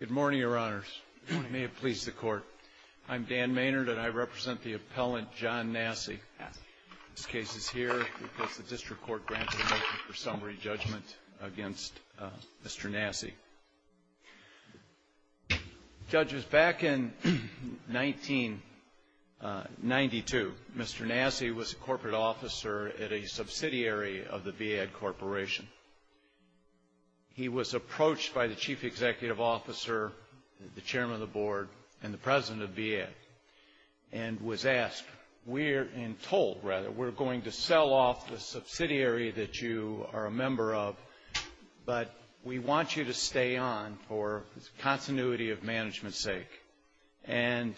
Good morning, Your Honors. May it please the Court. I'm Dan Maynard, and I represent the appellant, John Nassi. This case is here because the District Court granted a motion for summary judgment against Mr. Nassi. Judges, back in 1992, Mr. Nassi was a corporate officer at a subsidiary of the VAD Corporation. He was approached by the Chief Executive Officer, the Chairman of the Board, and the President of the VAD, and was asked, we're in toll, rather. We're going to sell off the subsidiary that you are a member of, but we want you to stay And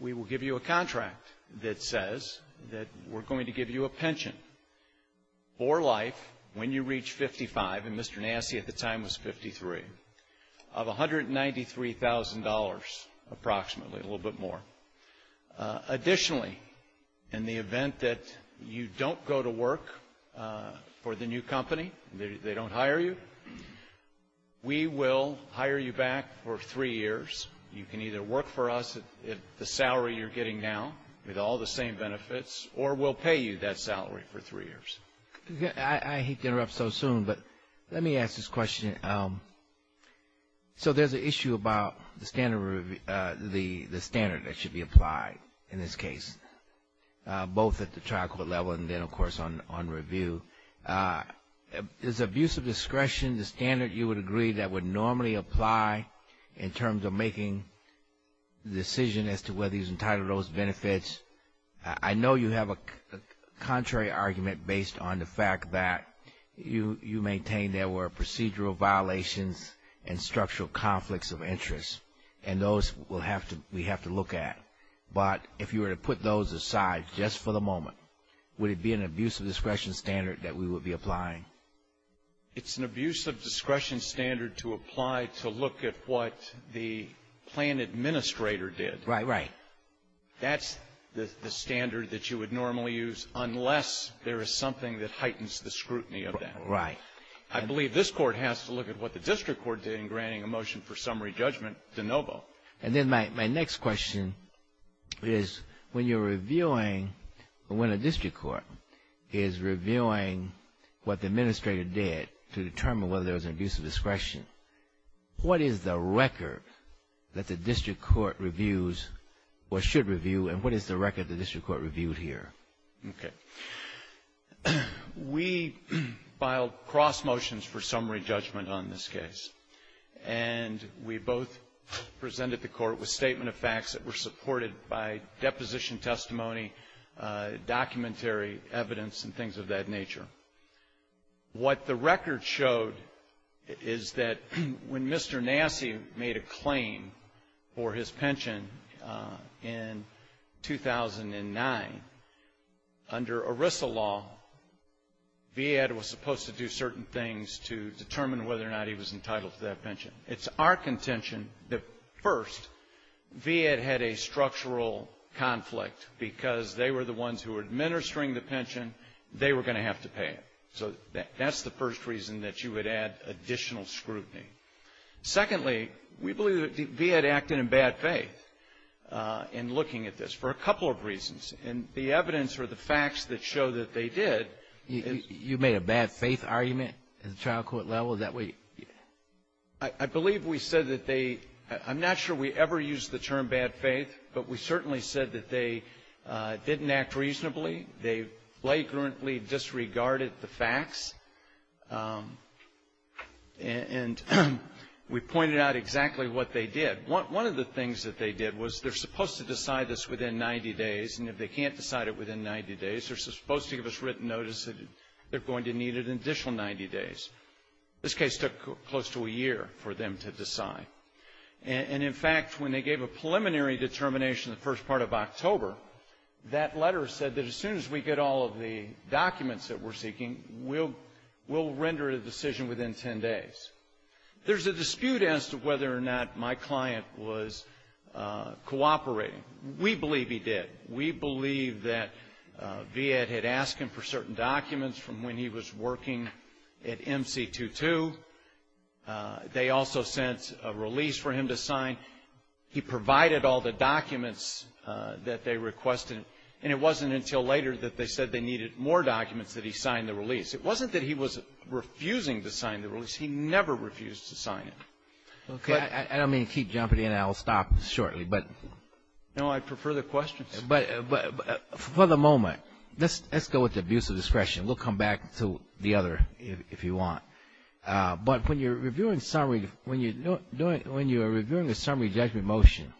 we will give you a contract that says that we're going to give you a pension for life when you reach 55, and Mr. Nassi at the time was 53, of $193,000 approximately, a little bit more. Additionally, in the event that you don't go to work for the new company, they don't hire you, we will hire you back for three years. You can either work for us at the salary you're getting now, with all the same benefits, or we'll pay you that salary for three years. I hate to interrupt so soon, but let me ask this question. So there's an issue about the standard that should be applied in this case, both at the trial court level and then, of course, on review. Is abuse of discretion the standard you would agree that would normally apply in terms of making the decision as to whether he's entitled to those benefits? I know you have a contrary argument based on the fact that you maintain there were procedural violations and structural conflicts of interest, and those we have to look at. But if you were to put those aside just for the moment, would it be an abuse of discretion standard that we would be applying? It's an abuse of discretion standard to apply to look at what the plan administrator did. Right, right. That's the standard that you would normally use unless there is something that heightens the scrutiny of that. Right. I believe this court has to look at what the district court did in granting a motion for summary judgment to Novo. And then my next question is, when you're reviewing or when a district court is reviewing what the administrator did to determine whether there was an abuse of discretion, what is the record that the district court reviews or should review, and what is the record the district court reviews here? Okay. We filed cross motions for summary judgment on this case. And we both presented the court with statement of facts that were supported by deposition testimony, documentary evidence, and things of that nature. What the record showed is that when Mr. Nassie made a claim for his pension in 2009, under ERISA law, VAD was supposed to do certain things to determine whether or not he was entitled to that pension. It's our contention that, first, VAD had a structural conflict because they were the ones who were administering the pension. They were going to have to pay it. So that's the first reason that you would add additional scrutiny. Secondly, we believe that VAD acted in bad faith in looking at this for a couple of reasons. And the evidence or the facts that show that they did... You made a bad faith argument in the trial court level? I believe we said that they... I'm not sure we ever used the term bad faith, but we certainly said that they didn't act reasonably. They blatantly disregarded the facts. And we pointed out exactly what they did. One of the things that they did was they're supposed to decide this within 90 days, and if they can't decide it within 90 days, they're supposed to give us written notice that they're going to need an additional 90 days. This case took close to a year for them to decide. And, in fact, when they gave a preliminary determination in the first part of October, that letter said that as soon as we get all of the documents that we're seeking, we'll render a decision within 10 days. There's a dispute as to whether or not my client was cooperating. We believe he did. We believe that VAD had asked him for certain documents from when he was working at MC22. They also sent a release for him to sign. He provided all the documents that they requested, and it wasn't until later that they said they needed more documents that he signed the release. It wasn't that he was refusing to sign the release. He never refused to sign it. Okay. I don't mean to keep jumping in, and I'll stop shortly. No, I prefer the questions. For the moment, let's go with abuse of discretion. We'll come back to the other if you want. But when you're reviewing a summary judgment motion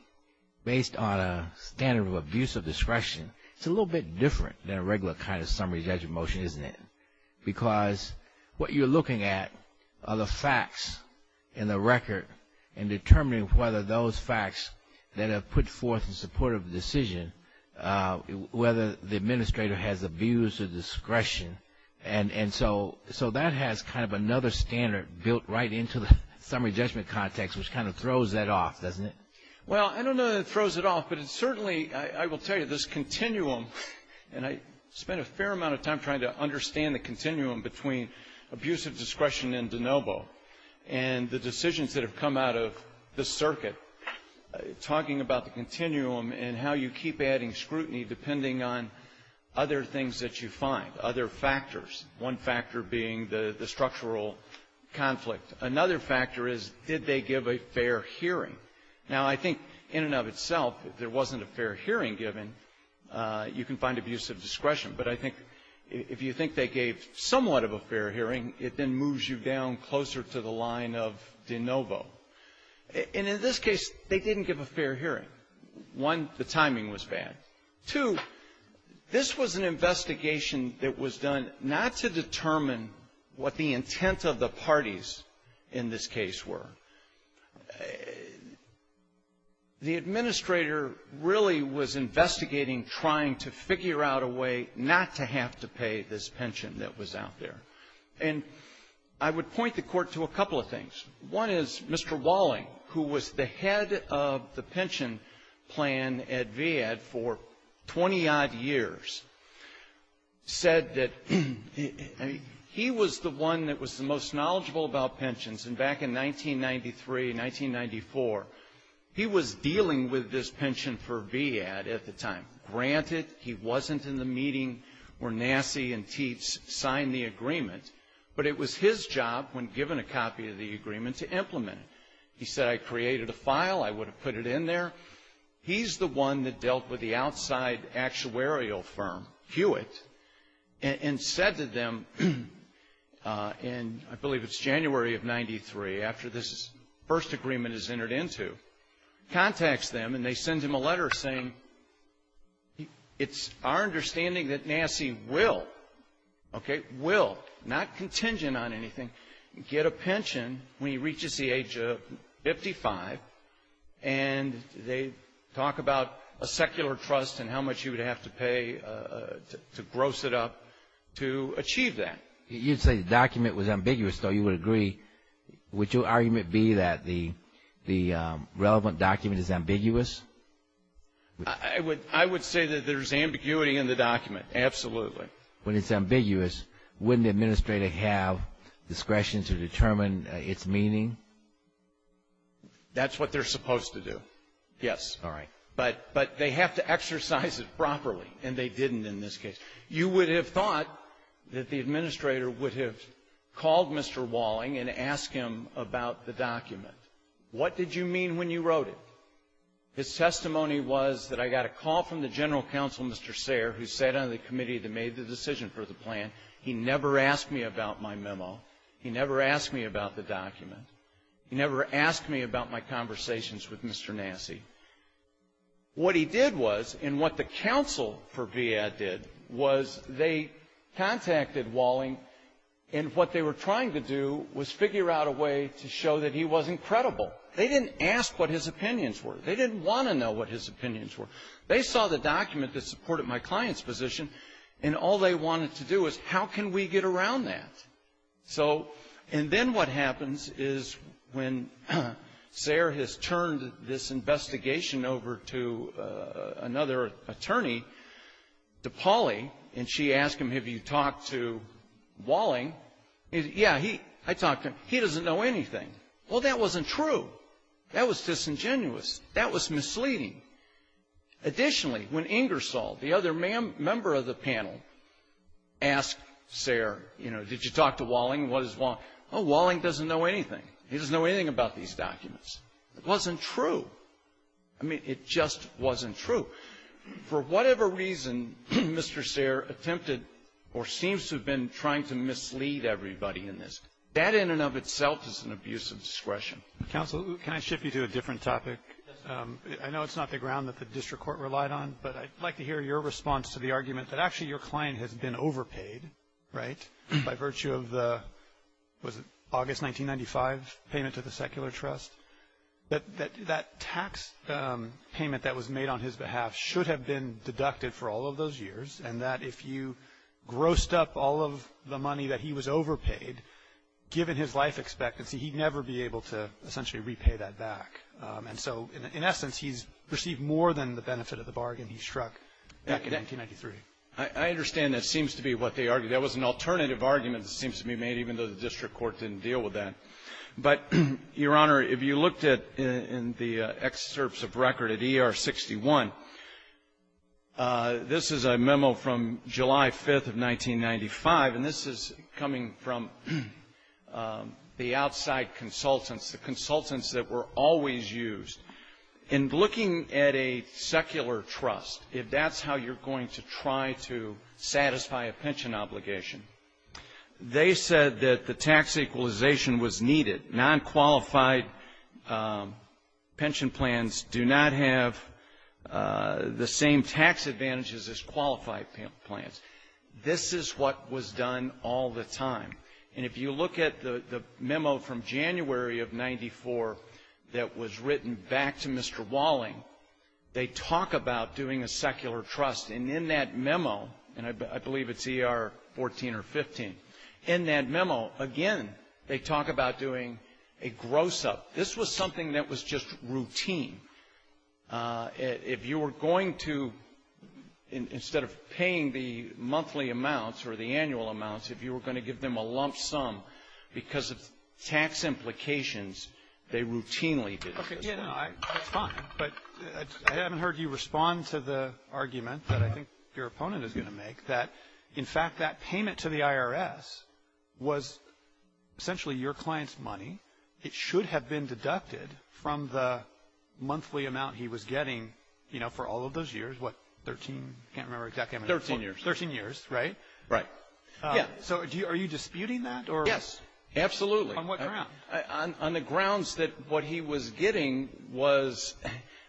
based on a standard of abuse of discretion, it's a little bit different than a regular kind of summary judgment motion, isn't it? Because what you're looking at are the facts in the record and determining whether those facts that are put forth in support of the decision, whether the administrator has abuse of discretion. And so that has kind of another standard built right into the summary judgment context, which kind of throws that off, doesn't it? Well, I don't know that it throws it off, but it certainly, I will tell you, this continuum, and I spent a fair amount of time trying to understand the continuum between abuse of discretion and de novo and the decisions that have come out of this circuit, talking about the continuum and how you keep adding scrutiny depending on other things that you find, other factors, one factor being the structural conflict. Another factor is did they give a fair hearing? Now, I think in and of itself, if there wasn't a fair hearing given, you can find abuse of discretion. But I think if you think they gave somewhat of a fair hearing, it then moves you down closer to the line of de novo. And in this case, they didn't give a fair hearing. One, the timing was bad. Two, this was an investigation that was done not to determine what the intent of the parties in this case were. The administrator really was investigating trying to figure out a way not to have to pay this pension that was out there. And I would point the Court to a couple of things. One is Mr. Walling, who was the head of the pension plan at VAD for 20-odd years, said that he was the one that was the most knowledgeable about pensions. And back in 1993 and 1994, he was dealing with this pension for VAD at the time. Granted, he wasn't in the meeting where Nassie and Teets signed the agreement, but it was his job, when given a copy of the agreement, to implement it. He said, I created a file, I would have put it in there. He's the one that dealt with the outside actuarial firm, Hewitt, and said to them, and I believe it's January of 1993, after this first agreement is entered into, contacts them and they send him a letter saying, it's our understanding that Nassie will, okay, will, not contingent on anything, get a pension when he reaches the age of 55, and they talk about a secular trust and how much he would have to pay to gross it up to achieve that. You say the document was ambiguous, so you would agree. Would your argument be that the relevant document is ambiguous? I would say that there's ambiguity in the document, absolutely. When it's ambiguous, wouldn't the administrator have discretion to determine its meaning? That's what they're supposed to do, yes. All right. But they have to exercise it properly, and they didn't in this case. You would have thought that the administrator would have called Mr. Walling and asked him about the document. What did you mean when you wrote it? His testimony was that I got a call from the general counsel, Mr. Sayre, who sat on the committee that made the decision for the plan. He never asked me about my memo. He never asked me about the document. He never asked me about my conversations with Mr. Nassie. What he did was, and what the counsel for VAD did, was they contacted Walling, and what they were trying to do was figure out a way to show that he was incredible. They didn't ask what his opinions were. They didn't want to know what his opinions were. They saw the document that supported my client's position, and all they wanted to do was, how can we get around that? And then what happens is when Sayre has turned this investigation over to another attorney, to Polly, and she asked him, have you talked to Walling? Yeah, I talked to him. He doesn't know anything. Well, that wasn't true. That was disingenuous. That was misleading. Additionally, when Ingersoll, the other member of the panel, asked Sayre, you know, did you talk to Walling? What is Walling? Oh, Walling doesn't know anything. He doesn't know anything about these documents. It wasn't true. I mean, it just wasn't true. For whatever reason, Mr. Sayre attempted or seems to have been trying to mislead everybody in this. That in and of itself is an abuse of discretion. Counsel, can I shift you to a different topic? I know it's not the ground that the district court relied on, but I'd like to hear your response to the argument that actually your client had been overpaid, right, by virtue of the August 1995 payment to the secular trust, that that tax payment that was made on his behalf should have been deducted for all of those years and that if you grossed up all of the money that he was overpaid, given his life expectancy, he'd never be able to essentially repay that back. And so, in essence, he's received more than the benefit of the bargain he struck back in 1993. I understand that seems to be what they argued. That was an alternative argument that seems to be made, even though the district court didn't deal with that. But, Your Honor, if you looked at the excerpts of record at ER 61, this is a memo from July 5th of 1995, and this is coming from the outside consultants, the consultants that were always used. In looking at a secular trust, if that's how you're going to try to satisfy a pension obligation, they said that the tax equalization was needed. Non-qualified pension plans do not have the same tax advantages as qualified plans. This is what was done all the time. And if you look at the memo from January of 1994 that was written back to Mr. Walling, they talk about doing a secular trust. And in that memo, and I believe it's ER 14 or 15, in that memo, again, they talk about doing a gross-up. This was something that was just routine. If you were going to, instead of paying the monthly amounts or the annual amounts, if you were going to give them a lump sum because of tax implications, they routinely did this. Okay, yeah, that's fine. But I haven't heard you respond to the argument that I think your opponent is going to make, that, in fact, that payment to the IRS was essentially your client's money. It should have been deducted from the monthly amount he was getting, you know, for all of those years, what, 13? I can't remember exactly how many. Thirteen years. Thirteen years, right? Right. Yeah, so are you disputing that or? Yes, absolutely. On what grounds? On the grounds that what he was getting was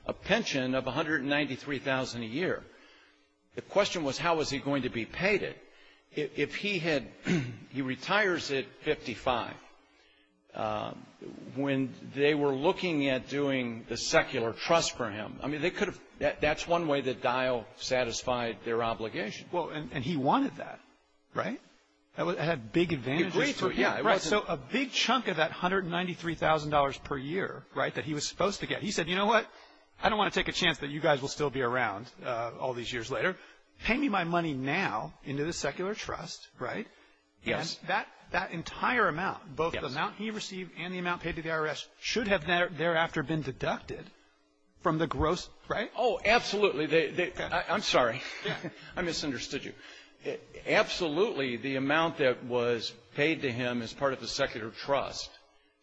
a pension of $193,000 a year. The question was how was he going to be paid it? If he had, he retires at 55. When they were looking at doing the secular trust for him, I mean, they could have, that's one way that Dial satisfied their obligation. Well, and he wanted that, right? It had big advantages for him. Right, so a big chunk of that $193,000 per year, right, that he was supposed to get. He said, you know what, I don't want to take a chance that you guys will still be around all these years later. Pay me my money now into the secular trust, right? Yes. And that entire amount, both the amount he received and the amount paid to the IRS, should have thereafter been deducted from the gross, right? Oh, absolutely. I'm sorry. I misunderstood you. Absolutely, the amount that was paid to him as part of the secular trust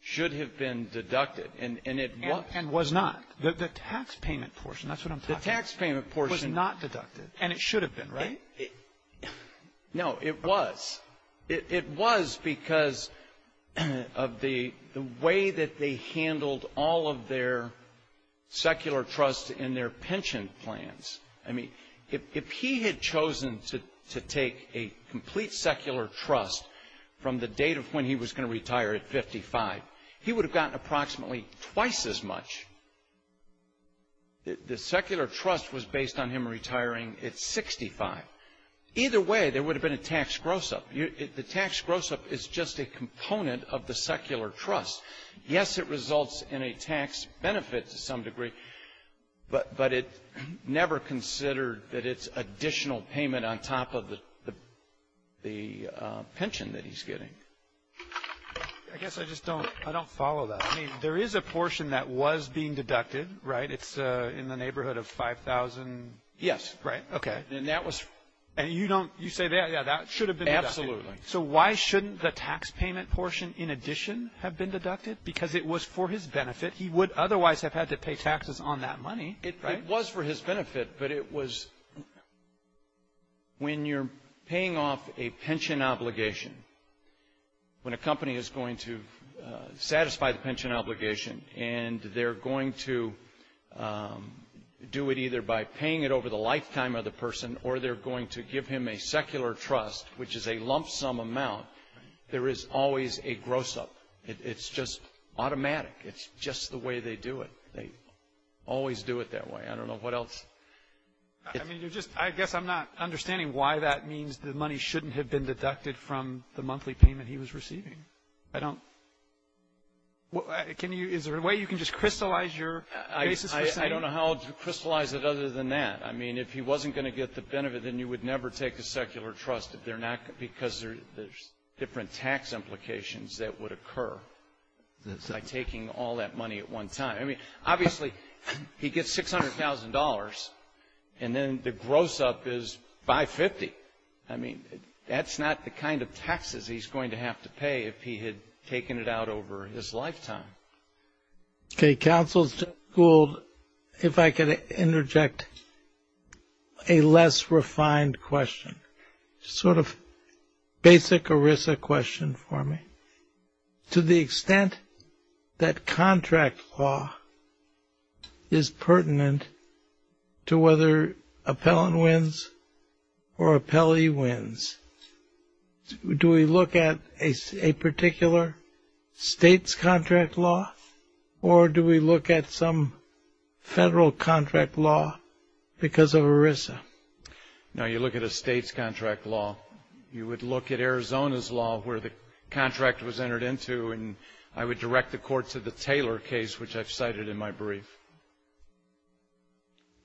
should have been deducted, and it was. And was not. The tax payment portion, that's what I'm talking about. The tax payment portion. It was not deducted, and it should have been, right? No, it was. It was because of the way that they handled all of their secular trust in their pension plans. I mean, if he had chosen to take a complete secular trust from the date of when he was going to retire at 55, he would have gotten approximately twice as much. The secular trust was based on him retiring at 65. Either way, there would have been a tax gross-up. The tax gross-up is just a component of the secular trust. Yes, it results in a tax benefit to some degree, but it's never considered that it's additional payment on top of the pension that he's getting. I guess I just don't follow that. I mean, there is a portion that was being deducted, right? It's in the neighborhood of $5,000. Yes. Right. Okay. And you say that should have been deducted. Absolutely. So why shouldn't the tax payment portion, in addition, have been deducted? Because it was for his benefit. He would otherwise have had to pay taxes on that money. It was for his benefit, but it was when you're paying off a pension obligation, when a company is going to satisfy the pension obligation and they're going to do it either by paying it over the lifetime of the person or they're going to give him a secular trust, which is a lump sum amount, there is always a gross-up. It's just automatic. It's just the way they do it. They always do it that way. I don't know what else. I guess I'm not understanding why that means the money shouldn't have been deducted from the monthly payment he was receiving. Is there a way you can just crystallize your case? I don't know how to crystallize it other than that. I mean, if he wasn't going to get the benefit, then you would never take a secular trust because there's different tax implications that would occur by taking all that money at one time. I mean, obviously, he gets $600,000, and then the gross-up is $550,000. I mean, that's not the kind of taxes he's going to have to pay if he had taken it out over his lifetime. Okay, counsel, if I could interject a less refined question, sort of basic ERISA question for me. To the extent that contract law is pertinent to whether appellant wins or appellee wins, do we look at a particular state's contract law, or do we look at some federal contract law because of ERISA? No, you look at a state's contract law. You would look at Arizona's law where the contract was entered into, and I would direct the court to the Taylor case, which I've cited in my brief.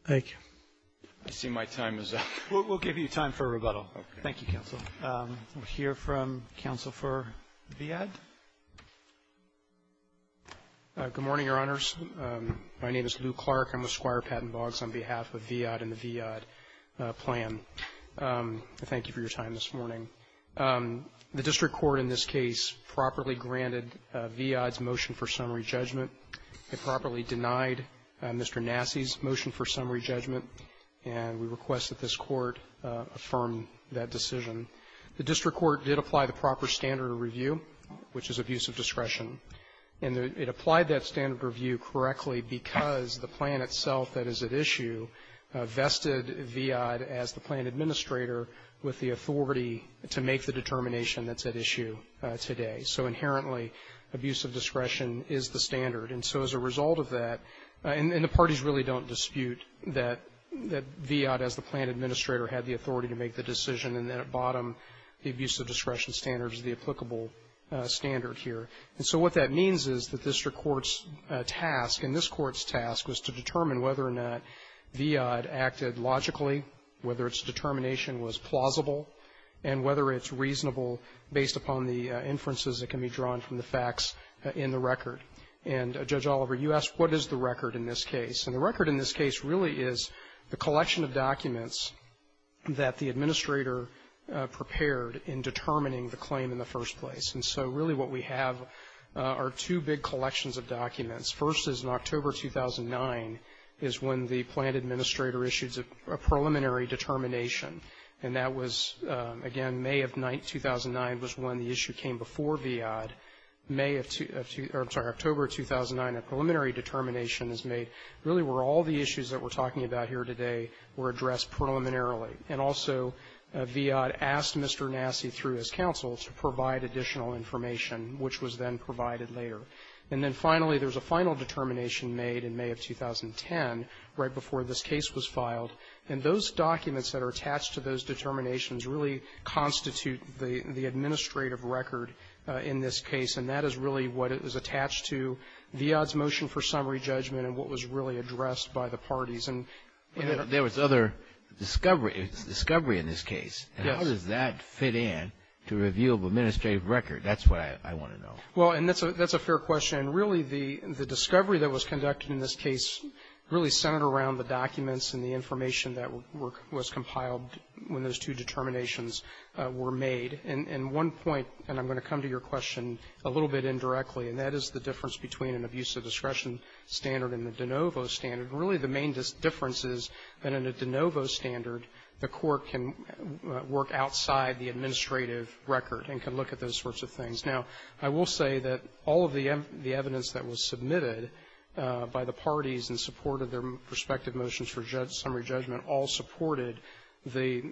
Thank you. I see my time is up. We'll give you time for a rebuttal. Okay. Thank you, counsel. We'll hear from counsel for VIAD. Good morning, Your Honors. My name is Lou Clark. I'm with Squire Patent Laws on behalf of VIAD and the VIAD plan. Thank you for your time this morning. The district court in this case properly granted VIAD's motion for summary judgment. It properly denied Mr. Nassi's motion for summary judgment, and we request that this court affirm that decision. The district court did apply the proper standard of review, which is abuse of discretion, and it applied that standard of review correctly because the plan itself that is at issue vested VIAD as the plan administrator with the authority to make the determination that's at issue today. So inherently, abuse of discretion is the standard, and so as a result of that, and the parties really don't dispute that VIAD as the plan administrator had the authority to make the decision, and then at bottom, the abuse of discretion standard is the applicable standard here. And so what that means is the district court's task, and this court's task, is to determine whether or not VIAD acted logically, whether its determination was plausible, and whether it's reasonable based upon the inferences that can be drawn from the facts in the record. And Judge Oliver, you asked what is the record in this case, and the record in this case really is the collection of documents that the administrator prepared in determining the claim in the first place. And so really what we have are two big collections of documents. First is in October 2009 is when the plan administrator issued a preliminary determination, and that was, again, May of 2009 was when the issue came before VIAD. October 2009, a preliminary determination is made really where all the issues that we're talking about here today were addressed preliminarily. And also VIAD asked Mr. Nasti through his counsel to provide additional information, which was then provided later. And then finally, there's a final determination made in May of 2010 right before this case was filed, and those documents that are attached to those determinations really constitute the administrative record in this case, and that is really what is attached to VIAD's motion for summary judgment and what was really addressed by the parties. There was other discovery in this case. How does that fit in to a review of administrative record? That's what I want to know. Well, and that's a fair question. Really the discovery that was conducted in this case really centered around the documents and the information that was compiled when those two determinations were made. And one point, and I'm going to come to your question a little bit indirectly, and that is the difference between an abuse of discretion standard and the de novo standard. Really the main difference is that in a de novo standard, the court can work outside the administrative record and can look at those sorts of things. Now, I will say that all of the evidence that was submitted by the parties in support of their respective motions for summary judgment all supported the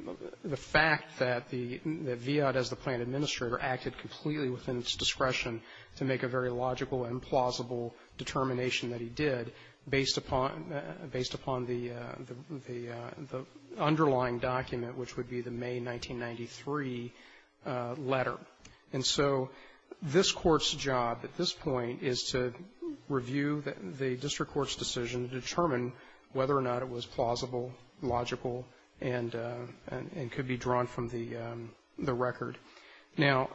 fact that VIAD, as the plan administrator, acted completely within its discretion to make a very logical and plausible determination that he did based upon the underlying document, which would be the May 1993 letter. And so this court's job at this point is to review the district court's decision to determine whether or not it was plausible, logical, and could be drawn from the record. Now,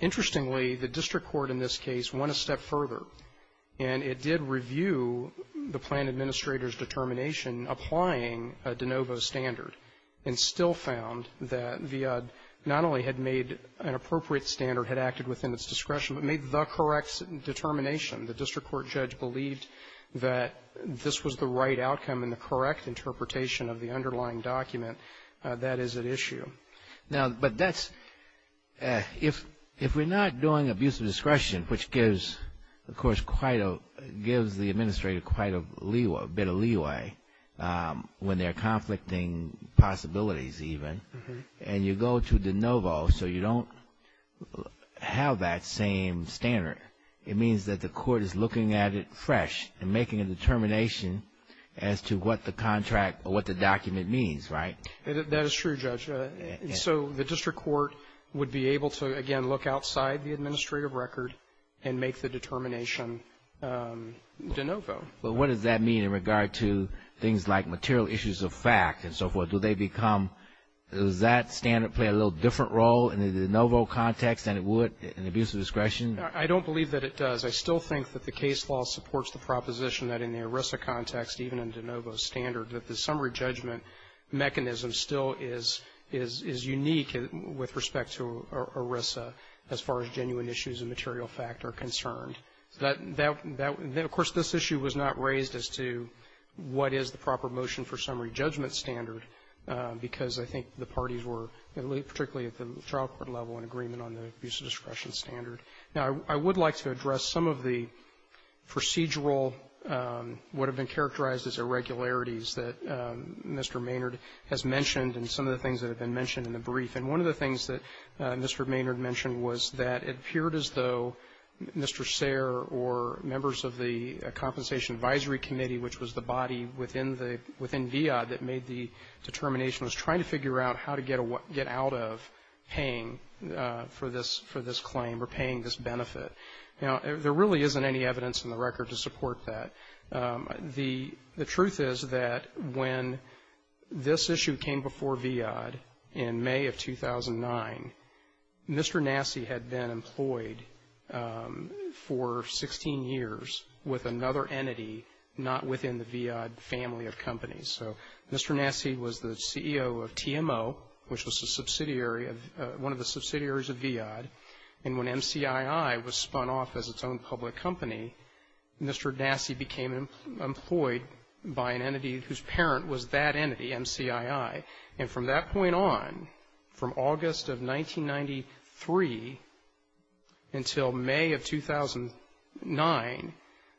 interestingly, the district court in this case went a step further and it did review the plan administrator's determination applying a de novo standard and still found that VIAD not only had made an appropriate standard, had acted within its discretion, but made the correct determination. The district court judge believed that this was the right outcome and the correct interpretation of the underlying document that is at issue. Okay. Now, but that's – if we're not doing abuse of discretion, which gives, of course, gives the administrator quite a bit of leeway when they're conflicting possibilities even, and you go to de novo so you don't have that same standard, it means that the court is looking at it fresh and making a determination as to what the contract or what the document means, right? That is true, Judge. So the district court would be able to, again, look outside the administrative record and make the determination de novo. But what does that mean in regard to things like material issues of fact and so forth? Do they become – does that standard play a little different role in the de novo context than it would in abuse of discretion? I don't believe that it does. I still think that the case law supports the proposition that in the ERISA context, even in de novo standard, that the summary judgment mechanism still is unique with respect to ERISA as far as genuine issues of material fact are concerned. Of course, this issue was not raised as to what is the proper motion for summary judgment standard because I think the parties were, particularly at the trial court level, in agreement on the abuse of discretion standard. Now, I would like to address some of the procedural, what have been characterized as irregularities that Mr. Maynard has mentioned and some of the things that have been mentioned in the brief. And one of the things that Mr. Maynard mentioned was that it appeared as though Mr. Sayre or members of the Compensation Advisory Committee, which was the body within DIOD that made the determination, was trying to figure out how to get out of paying for this claim or paying this benefit. Now, there really isn't any evidence in the record to support that. The truth is that when this issue came before DIOD in May of 2009, Mr. Nassi had been employed for 16 years with another entity not within the DIOD family of companies. So Mr. Nassi was the CEO of TMO, which was one of the subsidiaries of DIOD. And when MCII was spun off as its own public company, Mr. Nassi became employed by an entity whose parent was that entity, MCII. And from that point on, from August of 1993 until May of 2009,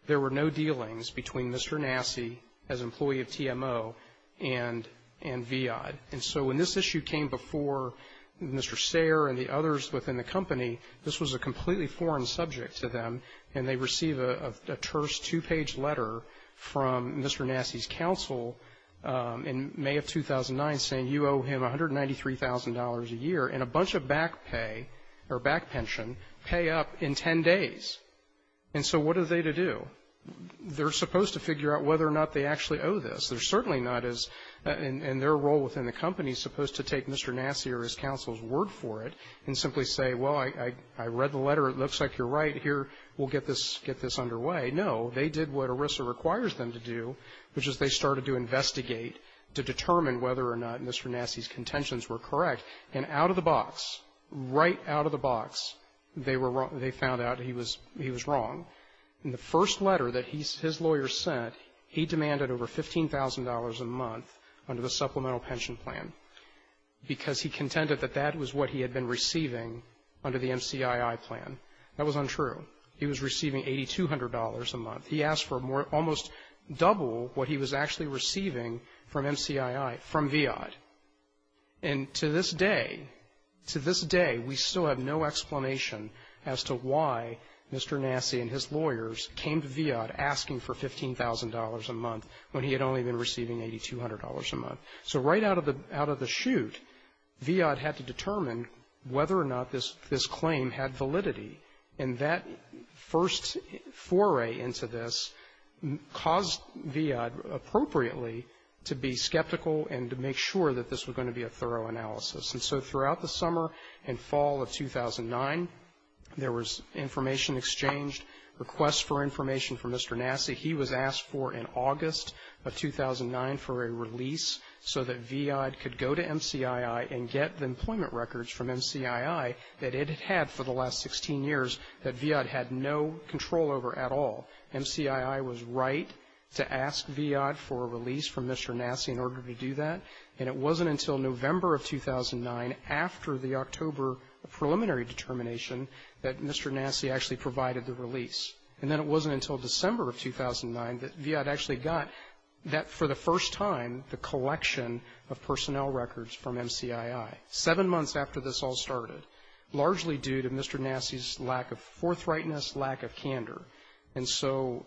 there were no dealings between Mr. Nassi as employee of TMO and DIOD. And so when this issue came before Mr. Sayre and the others within the company, this was a completely foreign subject to them, and they received a terse two-page letter from Mr. Nassi's counsel in May of 2009 saying, you owe him $193,000 a year and a bunch of back pay or back pension pay up in 10 days. And so what are they to do? They're supposed to figure out whether or not they actually owe this. They're certainly not, and their role within the company is supposed to take Mr. Nassi or his counsel's word for it and simply say, well, I read the letter. It looks like you're right. Here, we'll get this underway. No, they did what ERISA requires them to do, which is they started to investigate to determine whether or not Mr. Nassi's contentions were correct. And out of the box, right out of the box, they found out he was wrong. In the first letter that his lawyer sent, he demanded over $15,000 a month under the supplemental pension plan because he contended that that was what he had been receiving under the MCII plan. That was untrue. He was receiving $8,200 a month. He asked for almost double what he was actually receiving from MCII, from VIA. And to this day, to this day, we still have no explanation as to why Mr. Nassi and his lawyers came to VIA asking for $15,000 a month when he had only been receiving $8,200 a month. So right out of the chute, VIA had to determine whether or not this claim had validity. And that first foray into this caused VIA appropriately to be skeptical and to make sure that this was going to be a thorough analysis. And so throughout the summer and fall of 2009, there was information exchanged, requests for information from Mr. Nassi. He was asked for, in August of 2009, for a release so that VIA could go to MCII and get the employment records from MCII that it had had for the last 16 years that VIA had no control over at all. MCII was right to ask VIA for a release from Mr. Nassi in order to do that. And it wasn't until November of 2009, after the October preliminary determination, that Mr. Nassi actually provided the release. And then it wasn't until December of 2009 that VIA actually got, for the first time, the collection of personnel records from MCII, seven months after this all started, largely due to Mr. Nassi's lack of forthrightness, lack of candor. And so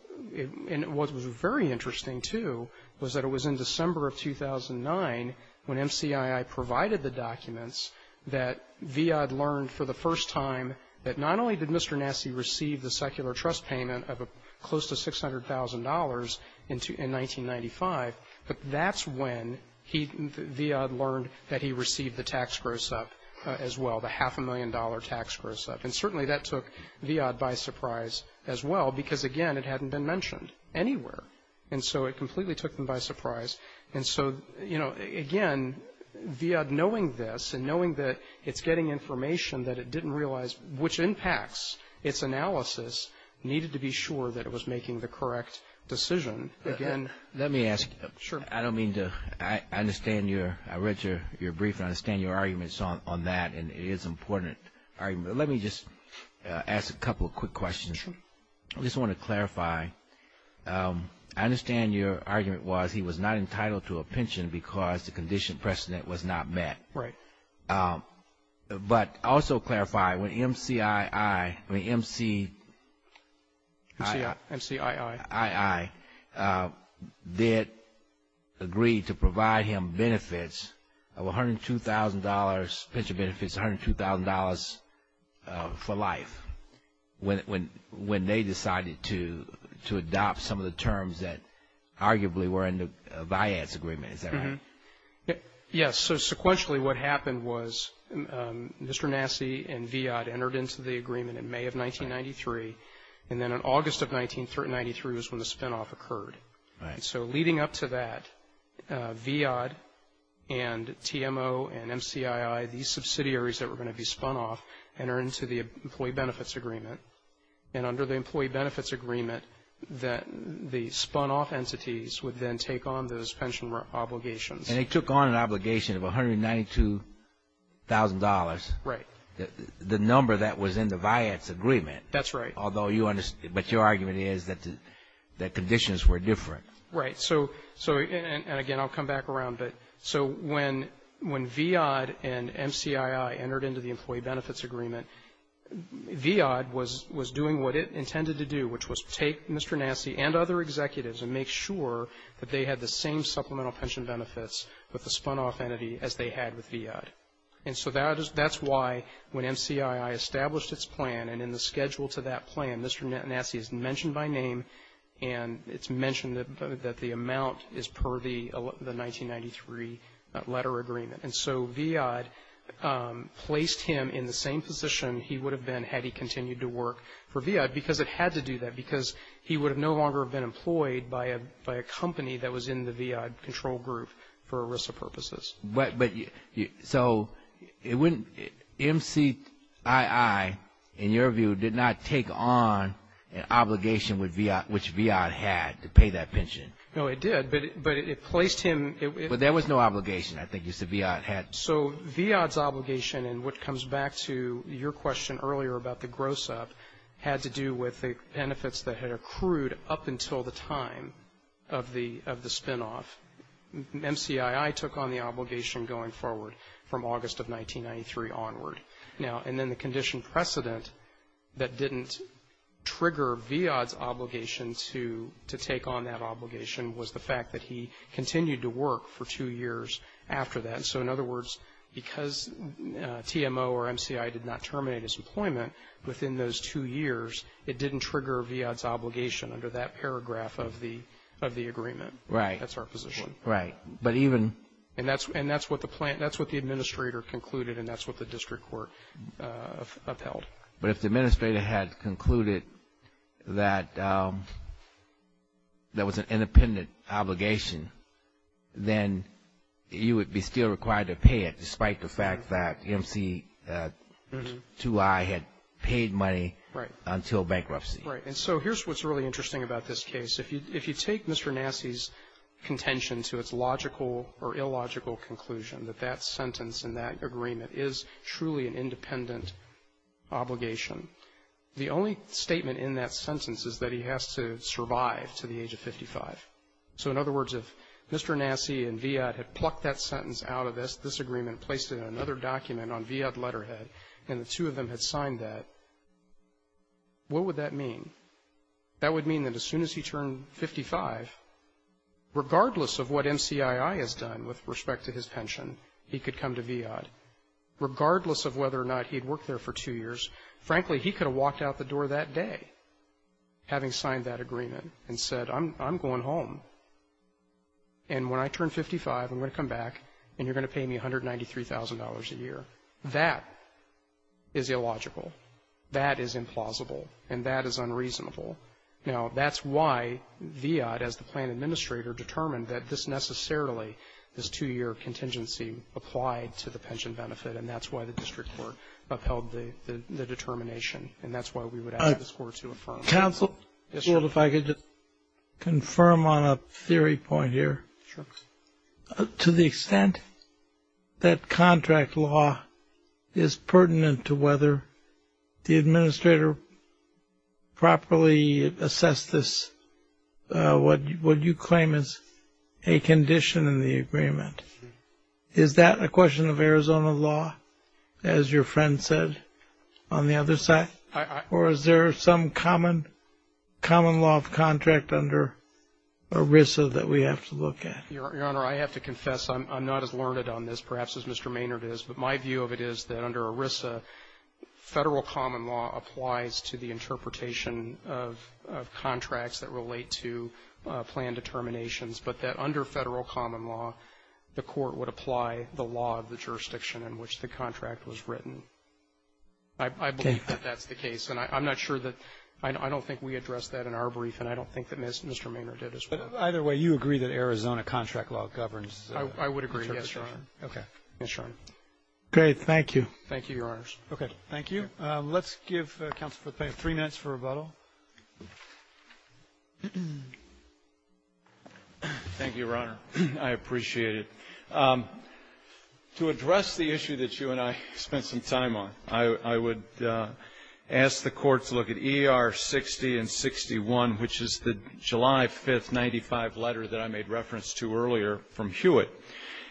what was very interesting, too, was that it was in December of 2009 when MCII provided the documents that VIA had learned for the first time that not only did Mr. Nassi receive the secular trust payment of close to $600,000 in 1995, but that's when VIA learned that he received the tax gross-up as well, the half-a-million-dollar tax gross-up. And certainly that took VIA by surprise as well because, again, it hadn't been mentioned anywhere. And so it completely took them by surprise. And so, you know, again, VIA knowing this and knowing that it's getting information that it didn't realize, which impacts its analysis, needed to be sure that it was making the correct decision. Let me ask. Sure. I don't mean to – I understand your – I read your brief and I understand your arguments on that, and it is an important argument, but let me just ask a couple of quick questions. I just want to clarify. I understand your argument was he was not entitled to a pension because the condition precedent was not met. Right. But also clarify, when MCII – I mean MCII did agree to provide him benefits of $102,000, pension benefits of $102,000 for life when they decided to adopt some of the terms that arguably were in the VIA's agreement. Is that right? Yes. So sequentially what happened was Mr. Nassi and VIA entered into the agreement in May of 1993, and then in August of 1993 is when the spinoff occurred. Right. So leading up to that, VIA and TMO and MCII, these subsidiaries that were going to be spun off, entered into the employee benefits agreement. And under the employee benefits agreement, the spun off entities would then take on those pension obligations. And they took on an obligation of $192,000. Right. The number that was in the VIA's agreement. That's right. Although you – but your argument is that conditions were different. Right. So again, I'll come back around. So when VIA and MCII entered into the employee benefits agreement, VIA was doing what it intended to do, which was take Mr. Nassi and other executives and make sure that they had the same supplemental pension benefits with the spun off entity as they had with VIA. And so that's why when MCII established its plan and in the schedule to that plan, Mr. Nassi is mentioned by name and it's mentioned that the amount is per the 1993 letter agreement. And so VIA placed him in the same position he would have been had he continued to work for VIA because it had to do that because he would have no longer been employed by a company that was in the VIA control group for ERISA purposes. But so it wouldn't – MCII, in your view, did not take on an obligation which VIA had to pay that pension. No, it did. But it placed him – But there was no obligation, I think you said VIA had. So VIA's obligation and what comes back to your question earlier about the gross up had to do with the benefits that had accrued up until the time of the spin off. MCII took on the obligation going forward from August of 1993 onward. And then the condition precedent that didn't trigger VIA's obligation to take on that obligation was the fact that he continued to work for two years after that. So in other words, because TMO or MCII did not terminate his employment within those two years, it didn't trigger VIA's obligation under that paragraph of the agreement. Right. That's our position. Right. But even – And that's what the administrator concluded and that's what the district court upheld. But if the administrator had concluded that there was an independent obligation, then you would be still required to pay it despite the fact that MCII had paid money until bankruptcy. Right. And so here's what's really interesting about this case. If you take Mr. Nassie's contention to its logical or illogical conclusion, that that sentence in that agreement is truly an independent obligation, the only statement in that sentence is that he has to survive to the age of 55. So in other words, if Mr. Nassie and VIA had plucked that sentence out of this agreement and placed it in another document on VIA's letterhead and the two of them had signed that, what would that mean? That would mean that as soon as he turned 55, regardless of what MCII has done with respect to his pension, he could come to VIA. Regardless of whether or not he had worked there for two years, frankly, he could have walked out the door that day having signed that agreement and said, I'm going home. And when I turn 55, I'm going to come back and you're going to pay me $193,000 a year. That is illogical. That is implausible. And that is unreasonable. Now, that's why VIA, as the plan administrator, determined that this necessarily, this two-year contingency applied to the pension benefit, and that's why the district court upheld the determination. And that's why we would have this court to affirm. Counsel, if I could just confirm on a theory point here. To the extent that contract law is pertinent to whether the administrator properly assessed this, what you claim is a condition in the agreement, is that a question of Arizona law, as your friend said on the other side, or is there some common law of contract under ERISA that we have to look at? Your Honor, I have to confess I'm not as learned on this perhaps as Mr. Maynard is, but my view of it is that under ERISA, federal common law applies to the interpretation of contracts that relate to plan determinations, but that under federal common law, the court would apply the law of the jurisdiction in which the contract was written. I believe that that's the case, and I'm not sure that, I don't think we addressed that in our brief, and I don't think that Mr. Maynard did as well. Either way, you agree that Arizona contract law governs. I would agree, yes, Your Honor. Okay. Yes, Your Honor. Great, thank you. Thank you, Your Honors. Okay. Thank you. Let's give Counsel Patel three minutes for rebuttal. Thank you, Your Honor. I appreciate it. To address the issue that you and I spent some time on, I would ask the Court to look at ER60 and 61, which is the July 5, 1995 letter that I made reference to earlier from Hewitt,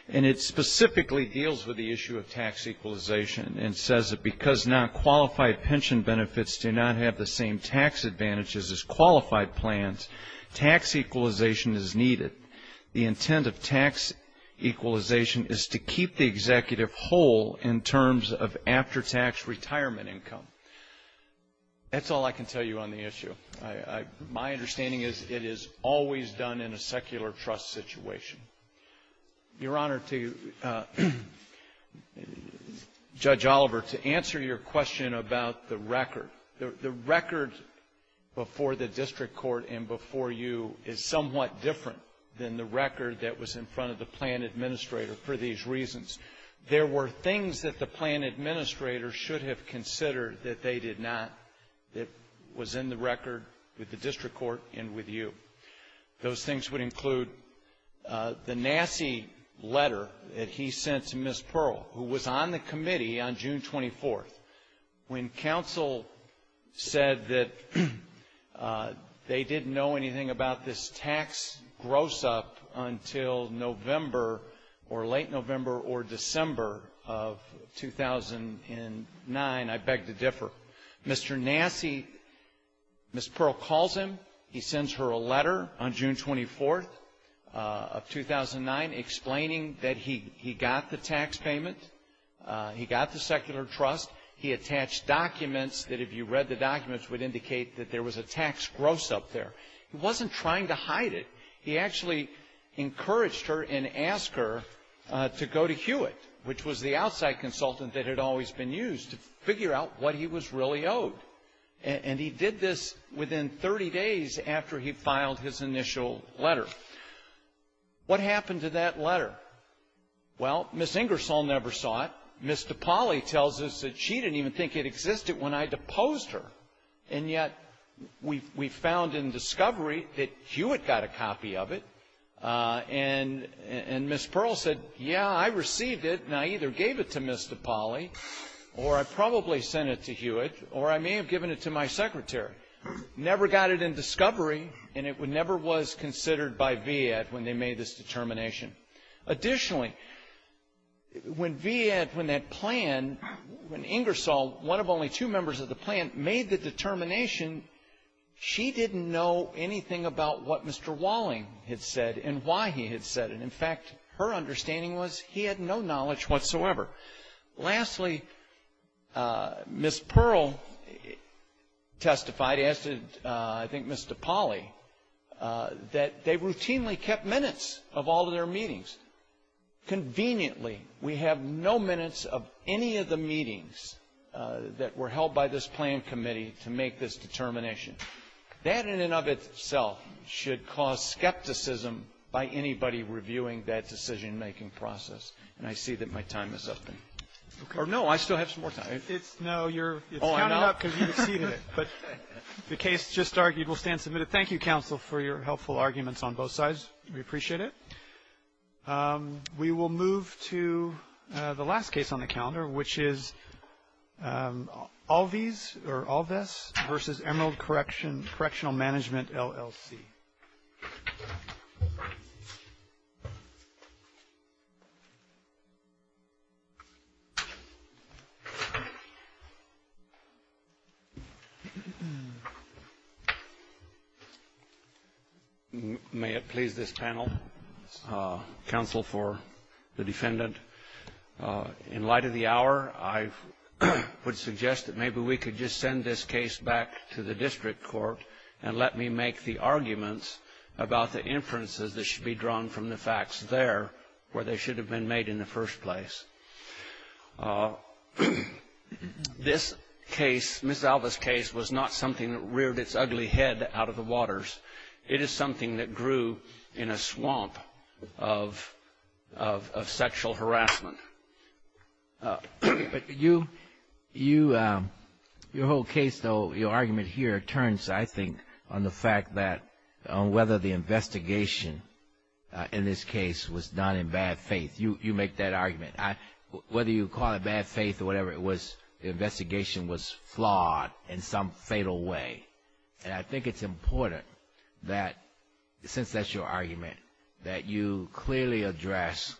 and it specifically deals with the issue of tax equalization and says that because non-qualified pension benefits do not have the same tax advantages as qualified plans, tax equalization is needed. The intent of tax equalization is to keep the executive whole in terms of after-tax retirement income. That's all I can tell you on the issue. My understanding is it is always done in a secular trust situation. Your Honor, to Judge Oliver, to answer your question about the record, the record before the district court and before you is somewhat different than the record that was in front of the plan administrator for these reasons. There were things that the plan administrator should have considered that they did not, that was in the record with the district court and with you. Those things would include the nasty letter that he sent to Ms. Pearl, who was on the committee on June 24th. When counsel said that they didn't know anything about this tax gross-up until November or late November or December of 2009, I beg to differ. Mr. Nassie, Ms. Pearl calls him. He sends her a letter on June 24th of 2009 explaining that he got the tax payment. He got the secular trust. He attached documents that if you read the documents would indicate that there was a tax gross-up there. He wasn't trying to hide it. He actually encouraged her and asked her to go to Hewitt, which was the outside consultant that had always been used to figure out what he was really owed. And he did this within 30 days after he filed his initial letter. What happened to that letter? Well, Ms. Ingersoll never saw it. Ms. DiPaoli tells us that she didn't even think it existed when I deposed her, and yet we found in discovery that Hewitt got a copy of it. And Ms. Pearl said, yeah, I received it, and I either gave it to Ms. DiPaoli or I probably sent it to Hewitt or I may have given it to my secretary. Never got it in discovery, and it never was considered by VIAD when they made this determination. Additionally, when VIAD, when they planned, when Ingersoll, one of only two members of the plan, made the determination, she didn't know anything about what Mr. Walling had said and why he had said it. In fact, her understanding was he had no knowledge whatsoever. Lastly, Ms. Pearl testified, as did I think Ms. DiPaoli, that they routinely kept minutes of all their meetings. Conveniently, we have no minutes of any of the meetings that were held by this plan committee to make this determination. That in and of itself should cause skepticism by anybody reviewing that decision-making process. And I see that my time is up. Or no, I still have some more time. No, you're counting up because you exceeded it. But the case just started. You will stand submitted. Thank you, counsel, for your helpful arguments on both sides. We appreciate it. We will move to the last case on the calendar, which is Alves v. Emerald Correctional Management, LLC. Thank you. May it please this panel, counsel for the defendant, in light of the hour, I would suggest that maybe we could just send this case back to the district court and let me make the arguments about the inferences that should be drawn from the facts there, where they should have been made in the first place. This case, Ms. Alves' case, was not something that reared its ugly head out of the waters. It is something that grew in a swamp of sexual harassment. Your whole case, though, your argument here turns, I think, on the fact that whether the investigation in this case was done in bad faith. You make that argument. Whether you call it bad faith or whatever it was, the investigation was flawed in some fatal way. And I think it's important that, since that's your argument, that you clearly address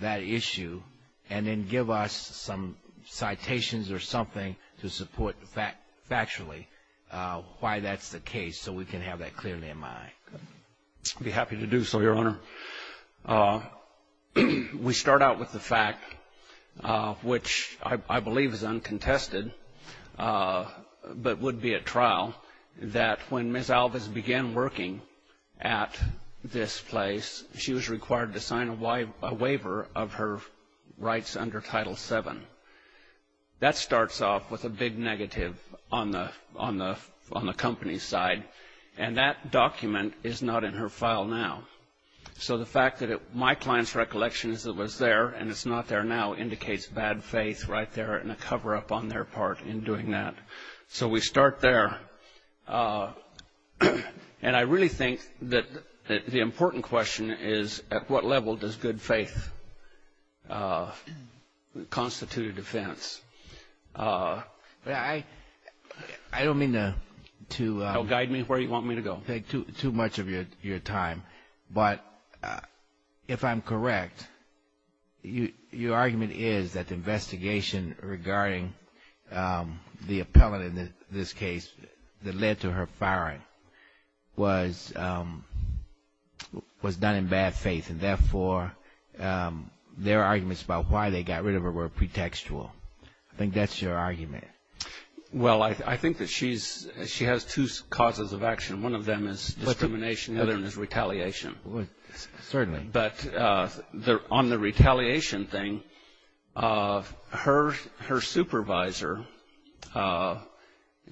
that issue and then give us some citations or something to support factually why that's the case so we can have that clearly in mind. I'd be happy to do so, Your Honor. We start out with the fact, which I believe is uncontested but would be at trial, that when Ms. Alves began working at this place, she was required to sign a waiver of her rights under Title VII. That starts off with a big negative on the company's side. And that document is not in her file now. So the fact that my client's recollection was there and it's not there now indicates bad faith right there and a cover-up on their part in doing that. So we start there. And I really think that the important question is, at what level does good faith constitute a defense? I don't mean to guide me where you want me to go, take too much of your time. But if I'm correct, your argument is that the investigation regarding the appellant in this case that led to her firing was done in bad faith. And therefore, their arguments about why they got rid of her were pretextual. I think that's your argument. Well, I think that she has two causes of action. One of them is determination. The other one is retaliation. Certainly. But on the retaliation thing, her supervisor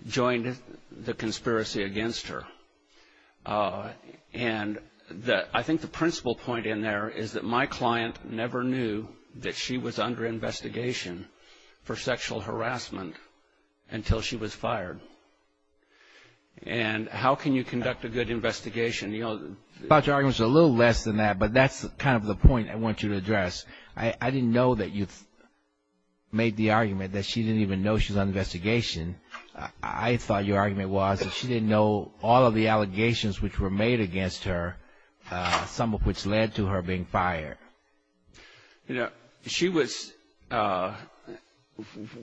joined the conspiracy against her. And I think the principal point in there is that my client never knew that she was under investigation for sexual harassment until she was fired. And how can you conduct a good investigation? Your arguments are a little less than that, but that's kind of the point I want you to address. I didn't know that you made the argument that she didn't even know she was under investigation. I thought your argument was that she didn't know all of the allegations which were made against her, some of which led to her being fired. You know,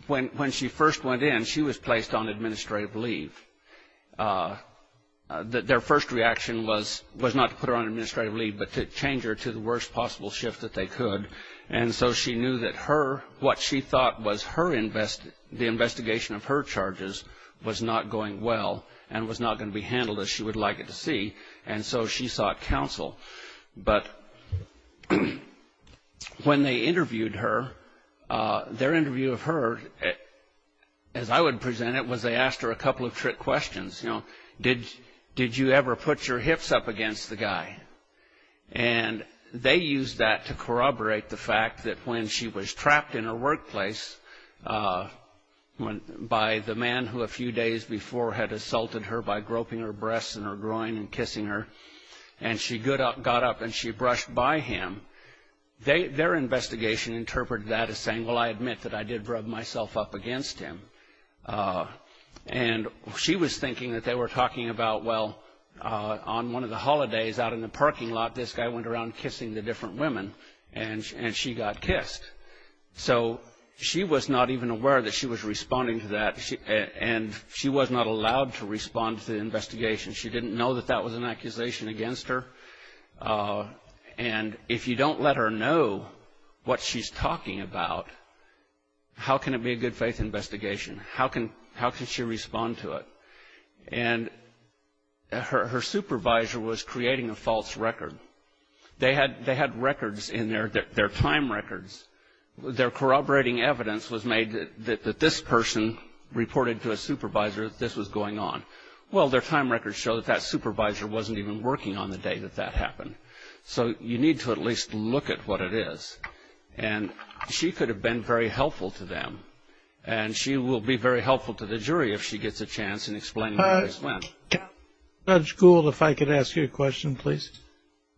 when she first went in, she was placed on administrative leave. Their first reaction was not to put her on administrative leave but to change her to the worst possible shift that they could. And so she knew that what she thought was the investigation of her charges was not going well and was not going to be handled as she would like it to be, and so she sought counsel. But when they interviewed her, their interview of her, as I would present it, was they asked her a couple of trick questions. You know, did you ever put your hips up against the guy? And they used that to corroborate the fact that when she was trapped in her workplace by the man who a few days before had assaulted her by groping her breasts and her groin and kissing her, and she got up and she brushed by him, their investigation interpreted that as saying, well, I admit that I did rub myself up against him. And she was thinking that they were talking about, well, on one of the holidays out in the parking lot, this guy went around kissing the different women and she got kissed. So she was not even aware that she was responding to that, and she was not allowed to respond to the investigation. She didn't know that that was an accusation against her. And if you don't let her know what she's talking about, how can it be a good faith investigation? How can she respond to it? And her supervisor was creating a false record. They had records in there, their time records. Their corroborating evidence was made that this person reported to a supervisor that this was going on. Well, their time records show that that supervisor wasn't even working on the day that that happened. So you need to at least look at what it is. And she could have been very helpful to them, and she will be very helpful to the jury if she gets a chance in explaining where this went. Judge Gould, if I could ask you a question, please.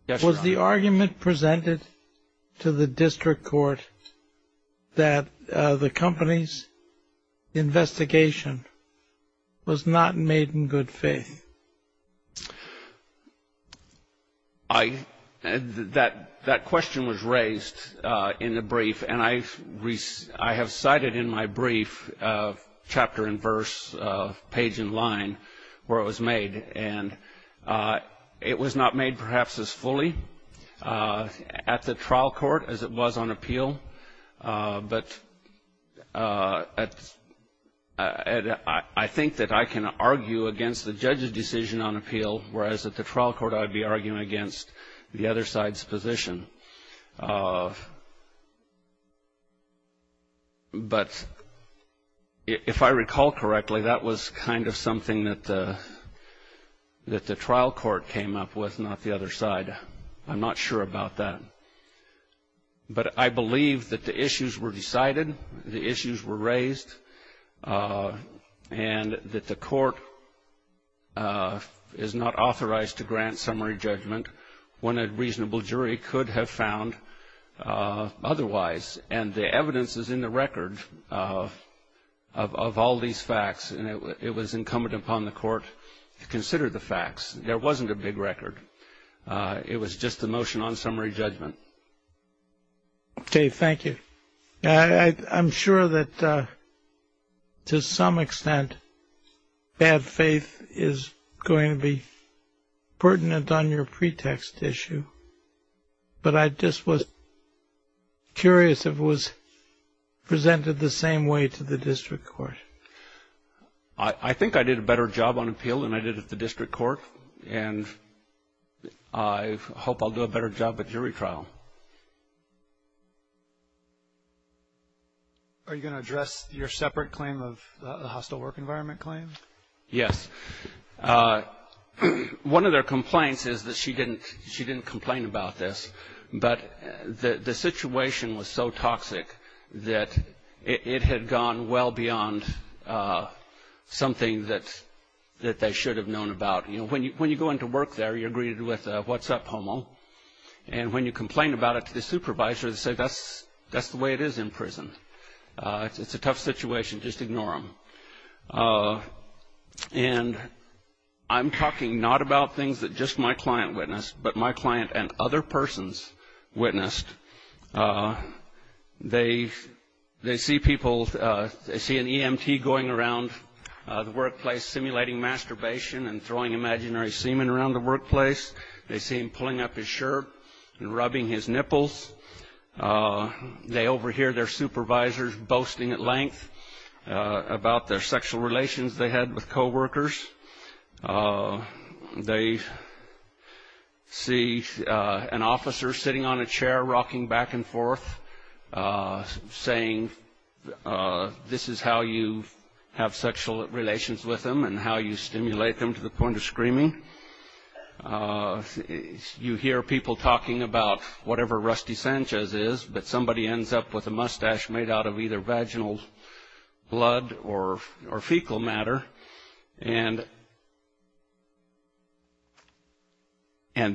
Was the argument presented to the district court that the company's investigation was not made in good faith? That question was raised in the brief, and I have cited in my brief chapter and verse, page and line, where it was made. And it was not made perhaps as fully at the trial court as it was on appeal, but I think that I can argue against the judge's decision on appeal, whereas at the trial court I would be arguing against the other side's position. But if I recall correctly, that was kind of something that the trial court came up with, not the other side. I'm not sure about that. But I believe that the issues were decided, the issues were raised, and that the court is not authorized to grant summary judgment when a reasonable jury could have found otherwise. And the evidence is in the record of all these facts, and it was incumbent upon the court to consider the facts. There wasn't a big record. It was just the motion on summary judgment. Okay, thank you. I'm sure that to some extent bad faith is going to be pertinent on your pretext issue, but I just was curious if it was presented the same way to the district court. I think I did a better job on appeal than I did at the district court, and I hope I'll do a better job at jury trial. Are you going to address your separate claim of the hostile work environment claim? Yes. One of their complaints is that she didn't complain about this, but the situation was so toxic that it had gone well beyond something that they should have known about. You know, when you go into work there, you're greeted with a what's up, homo, and when you complain about it to the supervisor, they say that's the way it is in prison. It's a tough situation. Just ignore them. And I'm talking not about things that just my client witnessed, but my client and other persons witnessed. They see people, they see an EMT going around the workplace simulating masturbation and throwing imaginary semen around the workplace. They see him pulling up his shirt and rubbing his nipples. They overhear their supervisors boasting at length about their sexual relations they had with coworkers. They see an officer sitting on a chair rocking back and forth saying this is how you have sexual relations with them and how you stimulate them to the point of screaming. You hear people talking about whatever Rusty Sanchez is, but somebody ends up with a mustache made out of either vaginal blood or fecal matter, and